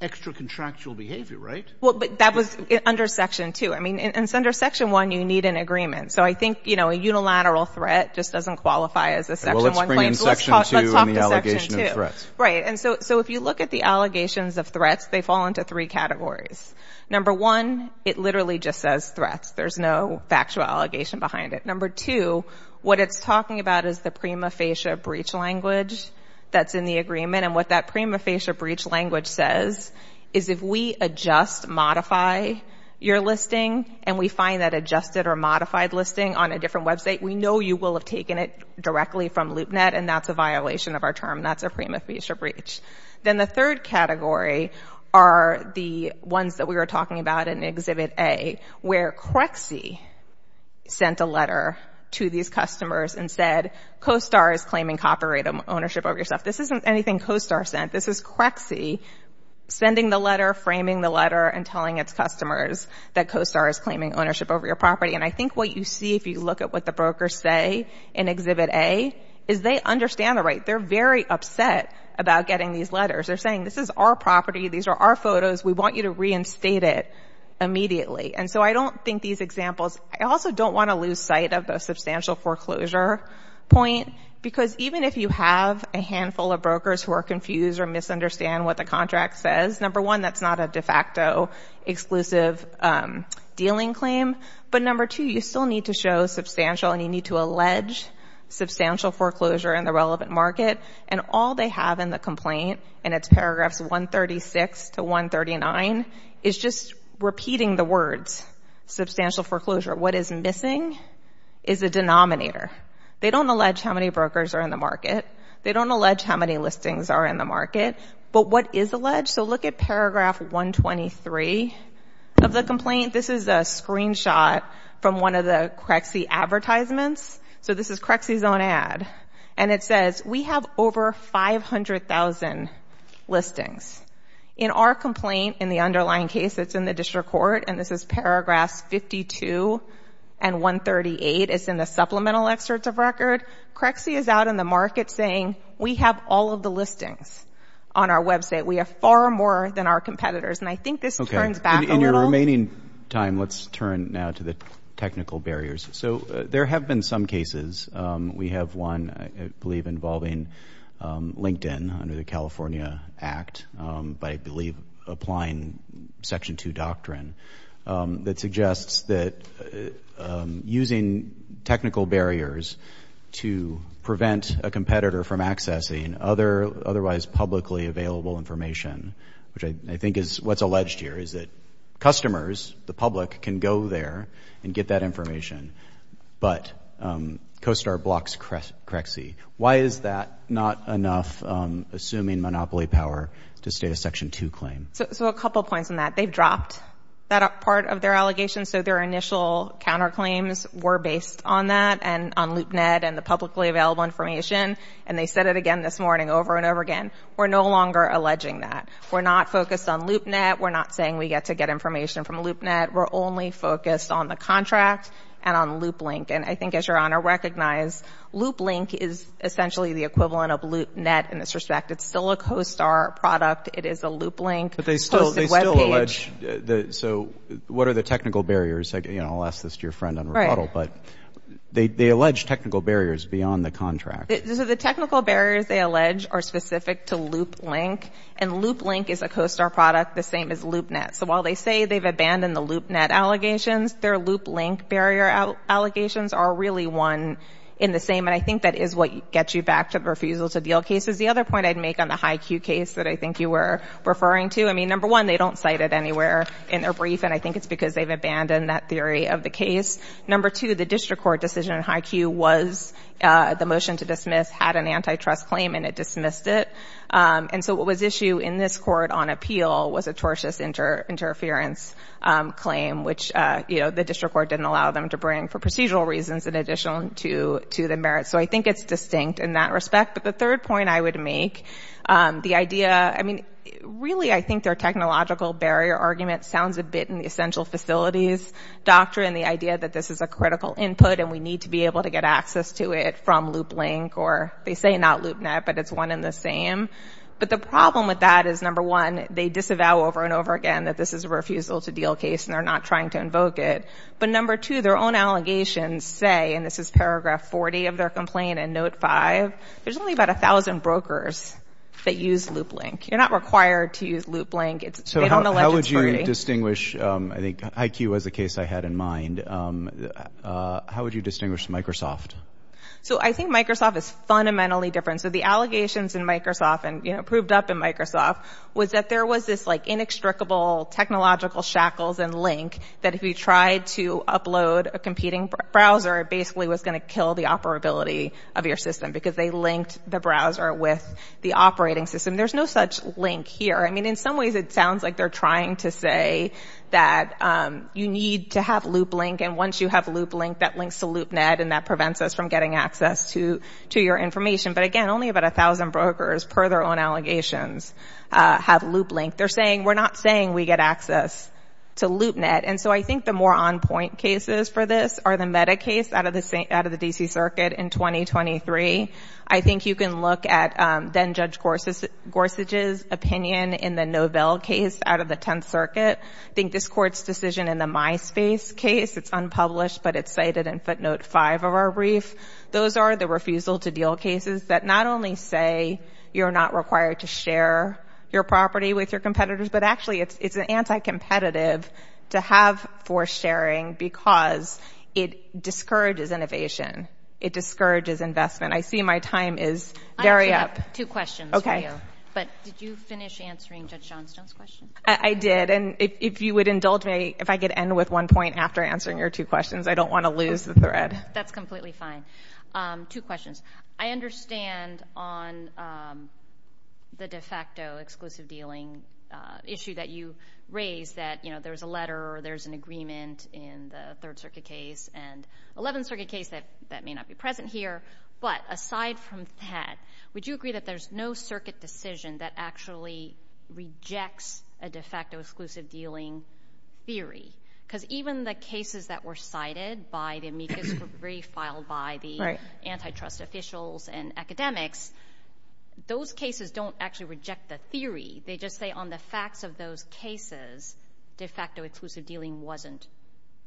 extra-contractual behavior, right? Well, but that was under Section 2. I mean, and it's under Section 1, you need an agreement. So, I think, you know, a unilateral threat just doesn't qualify as a Section 1 claim. Well, let's bring in Section 2 and the allegation of threats. Right, and so if you look at the allegations of threats, they fall into three categories. Number one, it literally just says threats. There's no factual allegation behind it. Number two, what it's talking about is the prima facie breach language that's in the agreement, and what that prima facie breach language says is if we adjust, modify your listing, and we find that adjusted or modified listing on a different website, we know you will have taken it directly from LoopNet, and that's a violation of our term. That's a prima facie breach. Then the third category are the ones that we were talking about in Exhibit A, where CREXI sent a letter to these customers and said, COSTAR is claiming copyright ownership of your stuff. This isn't anything COSTAR sent. This is CREXI sending the letter, framing the letter, and telling its customers that COSTAR is claiming ownership over your property, and I think what you see if you look at what the brokers say in Exhibit A is they understand the right. They're very upset about getting these letters. They're saying, this is our property. These are our photos. We want you to reinstate it immediately, and so I don't think these examples — I also don't want to lose sight of the substantial foreclosure point, because even if you have a handful of brokers who are confused or misunderstand what the contract says, number one, that's not a de facto exclusive dealing claim, but number two, you still need to show substantial, and you need to allege substantial foreclosure in the relevant market, and all they have in the complaint in its paragraphs 136 to 139 is just repeating the words, substantial foreclosure. What is missing is a denominator. They don't allege how many brokers are in the market. They don't allege how many listings are in the market, but what is alleged? Look at paragraph 123 of the complaint. This is a screenshot from one of the CREXI advertisements. So this is CREXI's own ad, and it says, we have over 500,000 listings. In our complaint, in the underlying case, it's in the district court, and this is paragraphs 52 and 138. It's in the supplemental excerpts of record. CREXI is out in the market saying, we have all of the listings on our website. We have far more than our competitors, and I think this turns back a little. Okay. In your remaining time, let's turn now to the technical barriers. So there have been some cases. We have one, I believe, involving LinkedIn under the California Act, but I believe applying Section 2 doctrine that suggests that using technical barriers to prevent a competitor from accessing otherwise publicly available information, which I think is what's alleged here, is that customers, the public, can go there and get that information, but CoStar blocks CREXI. Why is that not enough, assuming monopoly power, to state a Section 2 claim? So a couple points on that. They've dropped that part of their allegation, so their initial counterclaims were based on that and on LoopNet and the publicly available information, and this morning, over and over again, we're no longer alleging that. We're not focused on LoopNet. We're not saying we get to get information from LoopNet. We're only focused on the contract and on LoopLink, and I think, as your Honor recognized, LoopLink is essentially the equivalent of LoopNet in this respect. It's still a CoStar product. It is a LoopLink- But they still allege, so what are the technical barriers? I'll ask this to your friend on rebuttal, but they allege technical barriers beyond the contract. So the technical barriers they allege are specific to LoopLink, and LoopLink is a CoStar product the same as LoopNet, so while they say they've abandoned the LoopNet allegations, their LoopLink barrier allegations are really one in the same, and I think that is what gets you back to the refusal-to-deal cases. The other point I'd make on the HiQ case that I think you were referring to, I mean, number one, they don't cite it anywhere in their brief, and I think it's because they've abandoned that theory of the case. Number two, the district court decision in HiQ that was dismissed had an antitrust claim, and it dismissed it, and so what was issued in this court on appeal was a tortious interference claim, which the district court didn't allow them to bring for procedural reasons in addition to the merits, so I think it's distinct in that respect. But the third point I would make, the idea- I mean, really, I think their technological barrier argument sounds a bit in the essential facilities doctrine, the idea that this is a critical input and we need to be able to get access to it from loop link, or they say not loop net, but it's one and the same. But the problem with that is, number one, they disavow over and over again that this is a refusal-to-deal case and they're not trying to invoke it. But number two, their own allegations say, and this is paragraph 40 of their complaint in note five, there's only about 1,000 brokers that use loop link. You're not required to use loop link. They don't elect it's free. So how would you distinguish, I think HiQ was the case I had in mind, how would you distinguish from Microsoft? I think Microsoft is fundamentally different. So the allegations in Microsoft and proved up in Microsoft was that there was this inextricable technological shackles and link that if you tried to upload a competing browser, it basically was going to kill the operability of your system because they linked the browser with the operating system. There's no such link here. I mean, in some ways, it sounds like they're trying to say that you need to have loop link to get access to your information. But again, only about 1,000 brokers per their own allegations have loop link. They're saying we're not saying we get access to loop net. And so I think the more on point cases for this are the meta case out of the D.C. Circuit in 2023. I think you can look at then Judge Gorsuch's opinion in the Novell case out of the 10th Circuit. I think this court's decision in the MySpace case, it's unpublished but it's cited in footnote five of our brief. Those are the refusal to deal cases that not only say you're not required to share your property with your competitors, but actually it's an anti-competitive to have forced sharing because it discourages innovation. It discourages investment. I see my time is very up. I actually have two questions for you. But did you finish answering Judge Johnstone's question? I did. And if you would indulge me, if I could end with one point against the thread. That's completely fine. Two questions. I understand on the de facto exclusive dealing issue that you raised that there's a letter or there's an agreement in the Third Circuit case and 11th Circuit case that may not be present here. But aside from that, would you agree that there's no circuit decision that actually rejects a de facto exclusive dealing theory? Because even the cases that were filed by the antitrust officials and academics, those cases don't actually reject the theory. They just say on the facts of those cases de facto exclusive dealing wasn't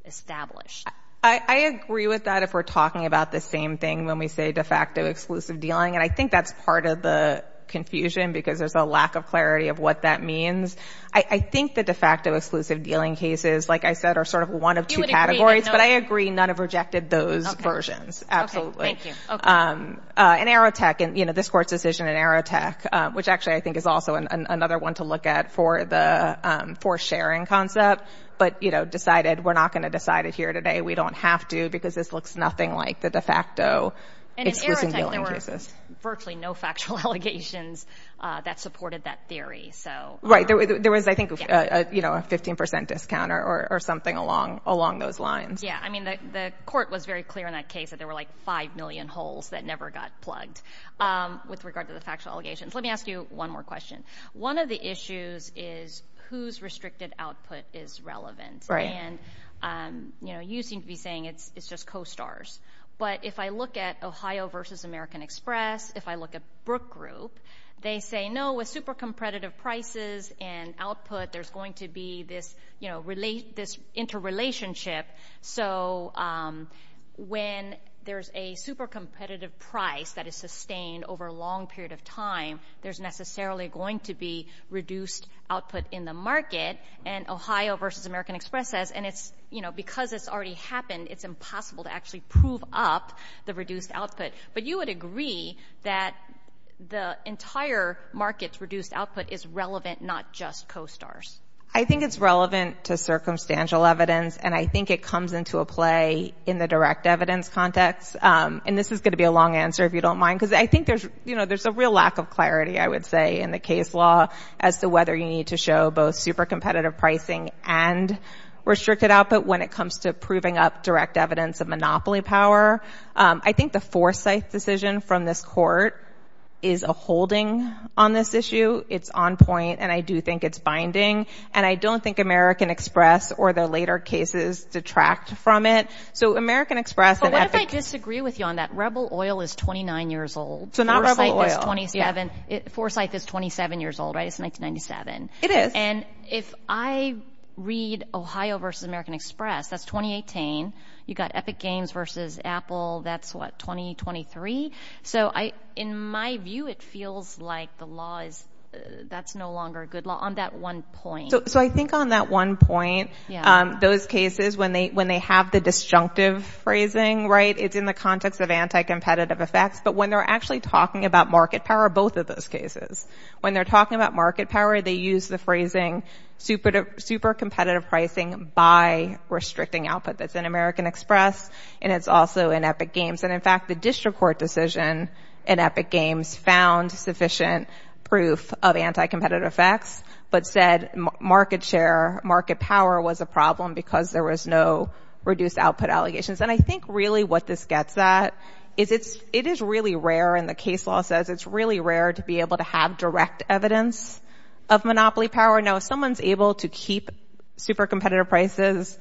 established. I agree with that if we're talking about the same thing when we say de facto exclusive dealing. And I think that's part of the confusion because there's a lack of clarity of what that means. I think the de facto exclusive dealing cases, like I said, are sort of one of two categories. But I agree none have rejected those versions. this Court's decision in Aerotech, which actually I think is also another one to look at for sharing concept, but we're not going to decide it here today. We don't have to because this looks nothing like the de facto exclusive dealing cases. And in Aerotech there were virtually no factual allegations that supported that theory. So I think there's a lot of confusion along those lines. Yeah, I mean the Court was very clear in that case that there were like five million holes that never got plugged with regard to the factual allegations. Let me ask you one more question. One of the issues is whose restricted output is relevant. And you seem to be saying it's just co-stars. But if I look at Ohio versus American Express, if I look at Brook Group, they say no, with super competitive prices there's a relationship. So when there's a super competitive price that is sustained over a long period of time, there's necessarily going to be reduced output in the market. And Ohio versus American Express says and it's, you know, because it's already happened, it's impossible to actually prove up the reduced output. But you would agree that the entire market's reduced output is relevant, not just co-stars. I think it's relevant and I think it comes into a play in the direct evidence context. And this is going to be a long answer if you don't mind, because I think there's, you know, there's a real lack of clarity, I would say, in the case law as to whether you need to show both super competitive pricing and restricted output when it comes to proving up direct evidence of monopoly power. I think the foresight decision from this court is a holding on this issue. It's on point and I do think it's binding. And I don't think American Express or the later cases detract from it. So American Express and Epic. But what if I disagree with you on that? Rebel Oil is 29 years old. So not Rebel Oil. Foresight is 27 years old, right? It's 1997. It is. And if I read Ohio versus American Express, that's 2018. You got Epic Games versus Apple, that's what, 2023? So in my view, it feels like the law is, that's no longer a good law on that one point. So I think on that one point, those cases, when they have the disjunctive phrasing, it's in the context of anti-competitive effects. But when they're actually talking about market power, both of those cases, when they're talking about market power, they use the phrasing super competitive pricing by restricting output. That's in American Express, and it's also in Epic Games. And in fact, the district court decision in Epic Games found sufficient proof of anti-competitive effects, but said market share, market power was a problem because there was no reduced output allegations. And I think really what this gets at is it is really rare, and the case law says it's really rare to be able to have direct evidence of monopoly power. Now, if someone's able to keep super competitive prices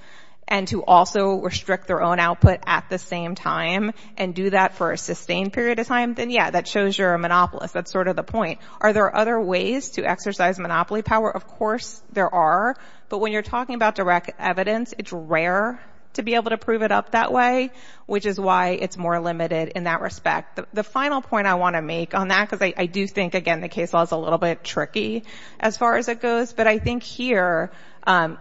and to also restrict their own output at the same time and do that for a sustained period of time, then yeah, that shows you're a monopolist. That's sort of the point. Are there other ways to exercise monopoly power? Of course there are. But when you're talking about direct evidence, it's rare to be able to prove it up that way, which is why it's more limited in that respect. The final point I want to make on that, because I do think, again, the case law is a little bit tricky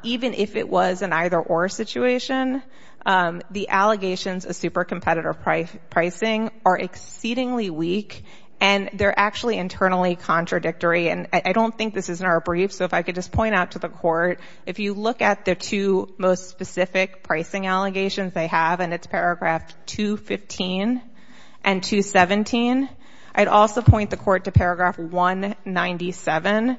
even if it was an either-or situation. The allegations of super competitive pricing are exceedingly weak, and they're actually internally contradictory. And I don't think this is in our brief, so if I could just point out to the court, if you look at the two most specific pricing allegations they have, and it's paragraph 215 and 217, I'd also point the court to paragraph 197.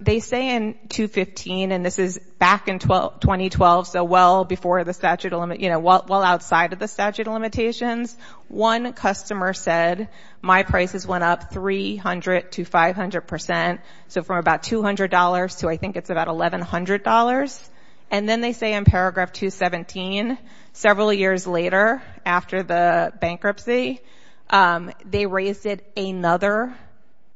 They say in 215, and this is back in 2012, so well outside of the statute of limitations, one customer said, my prices went up 300 to 500 percent, so from about $200 to I think it's about $1,100. And then they say in paragraph 217, several years later after the bankruptcy, they raised it another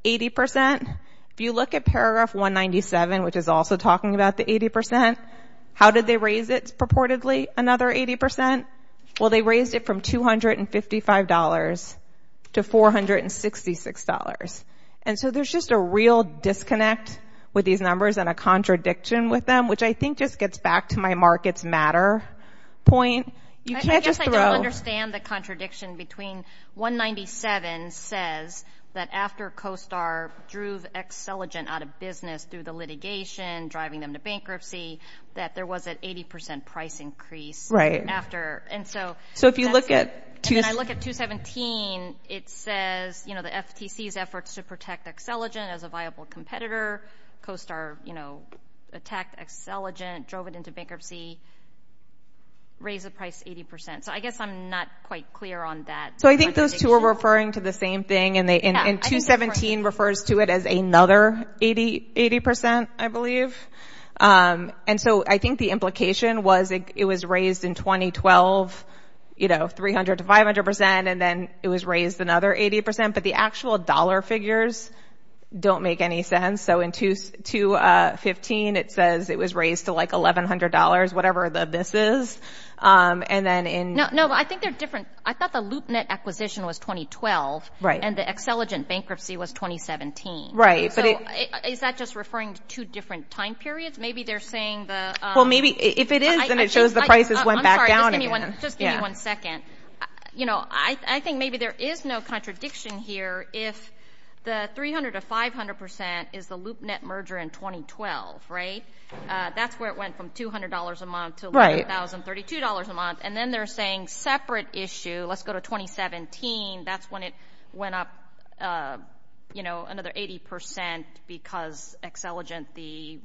80 percent. If you look at paragraph 197, which is also talking about the 80 percent, how did they raise it purportedly another 80 percent? Well, they raised it from $255 to $466. And so there's just a real disconnect with these numbers and a contradiction with them, which I think just gets back to my markets matter point. You can't just throw... I guess I don't understand the contradiction between 197 says that after CoStar drew Excelligent out of business through the litigation, driving them to bankruptcy, that there was an 80 percent price increase after. So if you look at... And then I look at 217, it says the FTC's efforts to protect Excelligent as a viable competitor, CoStar attacked Excelligent, drove it into bankruptcy, raised the price 80 percent. So I guess I'm not quite clear on that. So I think those two are referring to the same thing, and 217 refers to it as another 80 percent, I believe. And so I think the implication was it was raised in 2012, you know, 300 to 500 percent, and then it was raised another 80 percent. But the actual dollar figures don't make any sense. So in 215, it says it was raised to like $1,100, whatever the this is. And then in... No, I think they're different. I thought the loop net acquisition was 2012, and the Excelligent bankruptcy was 2017. So is that just referring to two different time periods? Maybe they're saying the... Well, maybe if it is, then it shows the prices went back down again. I'm sorry, just give me one second. You know, I think maybe there is no contradiction here if the 300 to 500 percent is the loop net merger in 2012, right? That's where it went from $200 a month to $11,032 a month. And then they're saying separate issue. Let's go to 2017. That's when it went up, you know, another 80 percent because Excelligent, the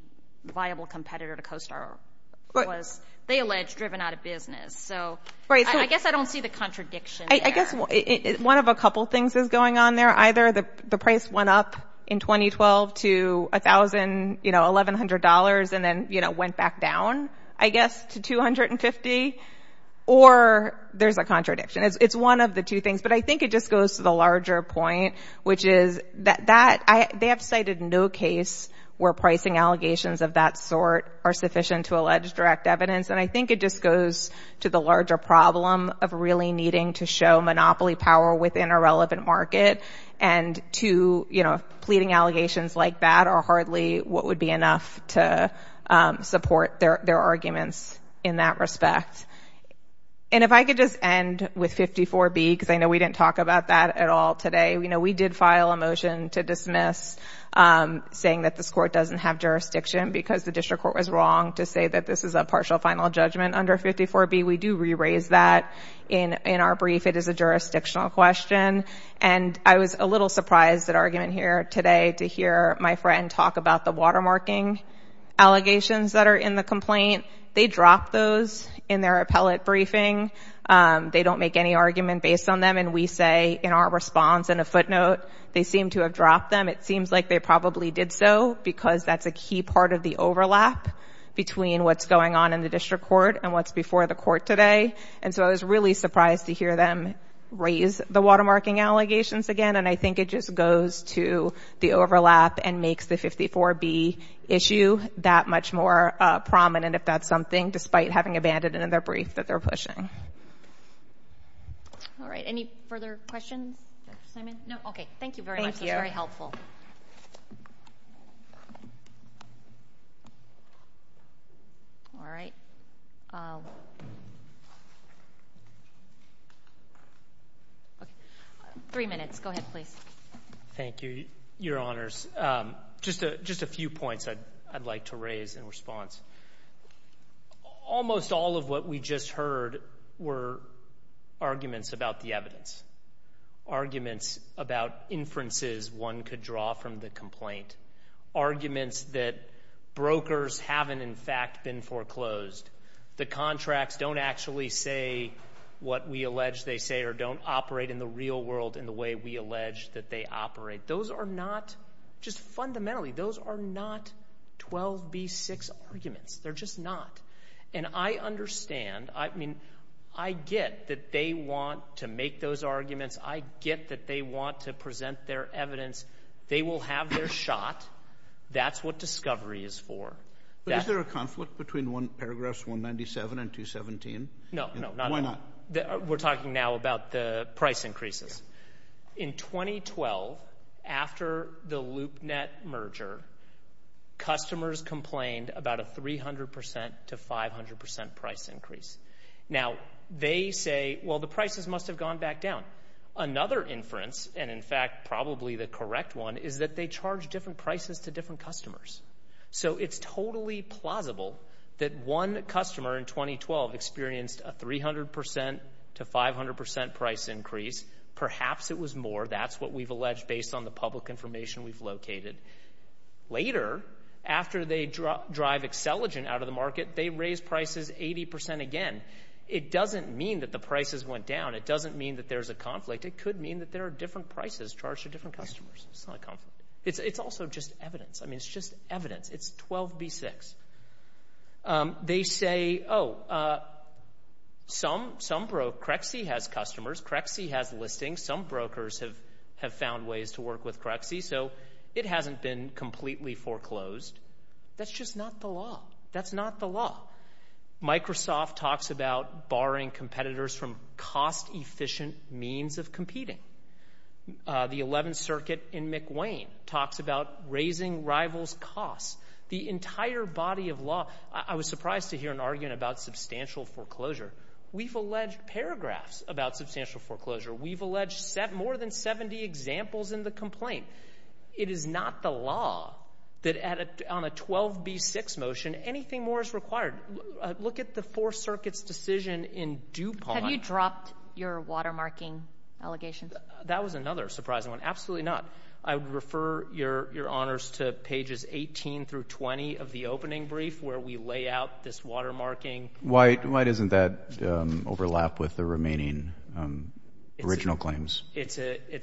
viable competitor to CoStar, was, they allege, driven out of business. So I guess I don't see the contradiction there. I guess one of a couple things is going on there either. The price went up in 2012 to $1,000, you know, $1,100, and then, you know, went back down, I guess, to $250. Or there's a contradiction. It's one of the two things, but I think it just goes to the larger point, which is that they have cited no case where pricing allegations of that sort are sufficient to allege direct evidence, and I think it just goes to the larger problem of really needing to show monopoly power within a relevant market, and to, you know, pleading allegations like that are hardly what would be enough to support their arguments in that respect. And if I could just end with 54B, because I know we didn't talk about that at all today, you know, we did file a motion to dismiss saying that this court doesn't have jurisdiction because the district court was wrong to say that this is a partial final judgment under 54B. We do re-raise that in our brief. It is a jurisdictional question, and I was a little surprised at argument here today to hear my friend talk about the watermarking allegations that are in the complaint. They dropped those in their appellate briefing. They don't make any argument based on them, and we say in our response in a footnote, they seem to have dropped them. It seems like they probably did so because that's a key part of the overlap between what's going on in the district court and what's before the court today, and so I was really surprised to hear them raise the watermarking allegations again, and I think it just goes to the overlap and makes the 54B issue that much more prominent and that's something, despite having abandoned it in their brief, that they're pushing. All right. Any further questions, Dr. Simon? No? Okay. Thank you very much. Thank you. That was very helpful. All right. Three minutes. Go ahead, please. Thank you, Your Honors. Just a few points I'd like to raise in response. Almost all of what we just heard were arguments about the evidence, arguments about inferences one could draw from the complaint, arguments that brokers haven't, in fact, been foreclosed. The contracts don't actually say what we allege they say or don't operate in the real world in the way we allege that they operate. Those are not, just fundamentally, those are not 12B6 arguments. They're just not. And I understand, I mean, I get that they want to make those arguments. I get that they want to present their evidence. They will have their shot. That's what discovery is for. But is there a conflict between paragraphs 197 and 217? No, no. Why not? We're talking now about the price increases. In 2012, after the LoopNet merger, customers complained about a 300% to 500% price increase. Now, they say, well, the prices must have gone back down. Another inference, and in fact, probably the correct one, is that they charge different prices to different customers. So it's totally plausible that one customer in 2012 experienced a 300% to 500% price increase. Perhaps it was more. That's what we've alleged based on the public information we've located. Later, after they drive Accelogen out of the market, they raise prices 80% again. It doesn't mean that the prices went down. It doesn't mean that there's a conflict. It could mean that there are different prices charged to different customers. It's not a conflict. It's also just evidence. I mean, it's just evidence. It's 12B6. They say, oh, some broke. Crexie has customers. Crexie has listings. Some brokers have found ways to work with Crexie. So it hasn't been completely foreclosed. That's just not the law. That's not the law. Microsoft talks about barring competitors from cost-efficient means of competing. The 11th Circuit in McWane talks about raising rivals' costs. The entire body of law. I was surprised to hear an argument about substantial foreclosure. We've alleged paragraphs about substantial foreclosure. We've alleged more than 70 examples in the complaint. It is not the law that on a 12B6 motion, anything more is required. Look at the Fourth Circuit's decision in DuPont. Have you dropped your watermarking allegations? That was another surprising one. Absolutely not. I would refer your Honors to pages 18 through 20 of the opening brief where we lay out this watermarking. Why doesn't that overlap with the remaining original claims? It's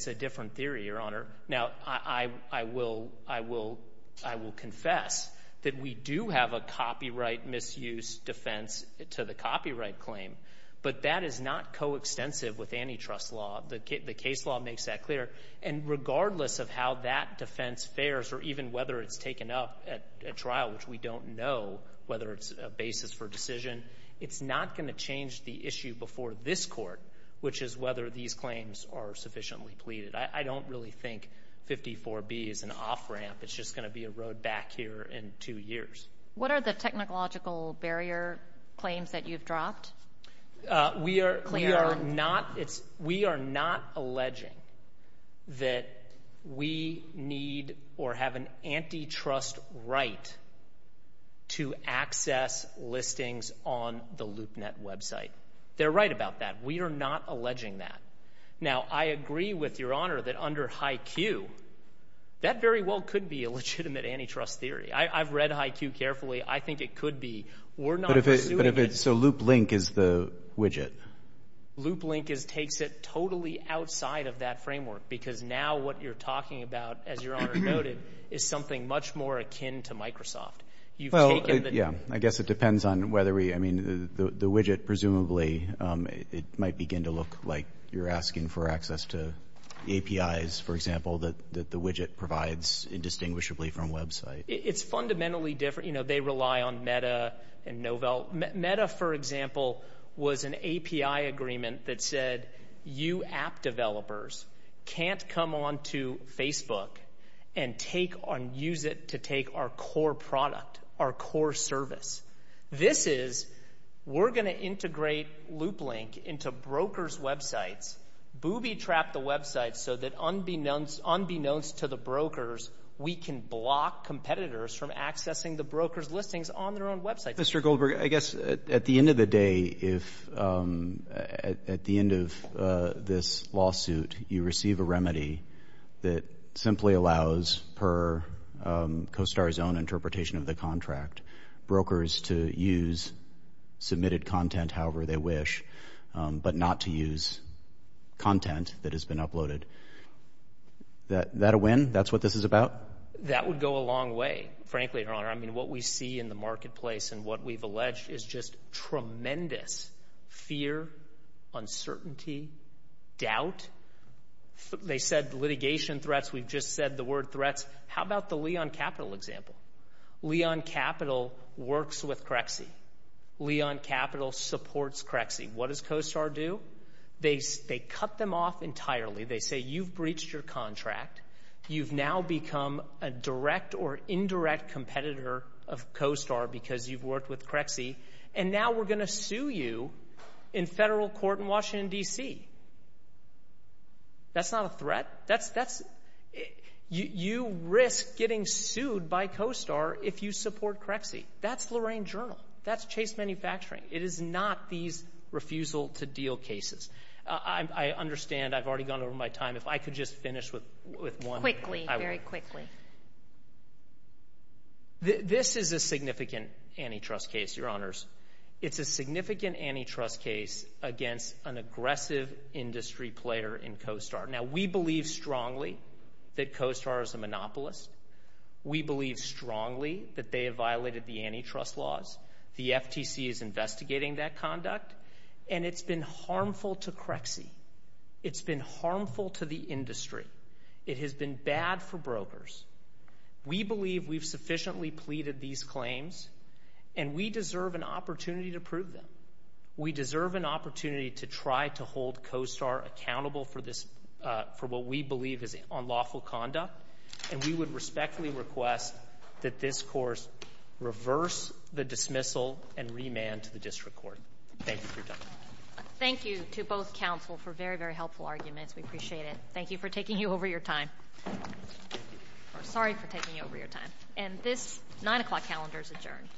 a different theory, Your Honor. Now, I will confess that we do have a copyright misuse defense to the copyright claim, but that is not coextensive with antitrust law. The case law makes that clear. And regardless of how that defense fares or even whether it's taken up at trial, which we don't know whether it's a basis for decision, it's not going to change the issue before this Court, which is whether these claims are sufficiently pleaded. I don't really think 54B is an off-ramp. It's just going to be a road back here in two years. What are the technological barrier claims that you've dropped? We are not alleging that we need or have an antitrust right to access listings on the LoopNet website. They're right about that. We are not alleging that. Now, I agree with Your Honor that under HYCU, that very well could be a legitimate antitrust theory. I've read HYCU carefully. I think it could be. We're not pursuing it. So LoopLink is the widget? LoopLink takes it totally outside of that framework because now what you're talking about, as Your Honor noted, is something much more akin to Microsoft. Well, yeah, I guess it depends on whether we... I mean, the widget, presumably, it might begin to look like you're asking for access to APIs, for example, that the widget provides indistinguishably from website. It's fundamentally different. You know, they rely on Meta and Novell. Meta, for example, was an API agreement that said you app developers can't come on to Facebook and use it to take our core product, our core service. This is, we're going to integrate LoopLink into brokers' websites, booby-trap the websites so that unbeknownst to the brokers, we can block competitors from accessing the brokers' listings on their own websites. Mr. Goldberg, I guess at the end of the day, if at the end of this lawsuit you receive a remedy that simply allows, per CoStar's own interpretation of the contract, brokers to use submitted content however they wish but not to use content that has been uploaded, that a win? That's what this is about? That would go a long way, frankly, Your Honor. I mean, what we see in the marketplace and what we've alleged is just tremendous fear, uncertainty, doubt. They said litigation threats. We've just said the word threats. How about the Leon Capital example? Leon Capital works with Crexie. Leon Capital supports Crexie. What does CoStar do? They cut them off entirely. They say, you've breached your contract. You've now become a direct or indirect competitor of CoStar because you've worked with Crexie, and now we're going to sue you in federal court in Washington, D.C. That's not a threat. You risk getting sued by CoStar if you support Crexie. That's Lorraine Journal. That's Chase Manufacturing. It is not these refusal-to-deal cases. I understand I've already gone over my time. If I could just finish with one. Quickly, very quickly. This is a significant antitrust case, Your Honors. It's a significant antitrust case against an aggressive industry player in CoStar. Now, we believe strongly that CoStar is a monopolist. We believe strongly that they have violated the antitrust laws. The FTC is investigating that conduct, and it's been harmful to Crexie. It's been harmful to the industry. It has been bad for brokers. We believe we've sufficiently pleaded these claims, and we deserve an opportunity to prove them. We deserve an opportunity to try to hold CoStar accountable for what we believe is unlawful conduct, and we would respectfully request that this course reverse the dismissal and remand to the district court. Thank you for your time. Thank you to both counsel for very, very helpful arguments. We appreciate it. Thank you for taking over your time. Sorry for taking over your time. And this 9 o'clock calendar is adjourned.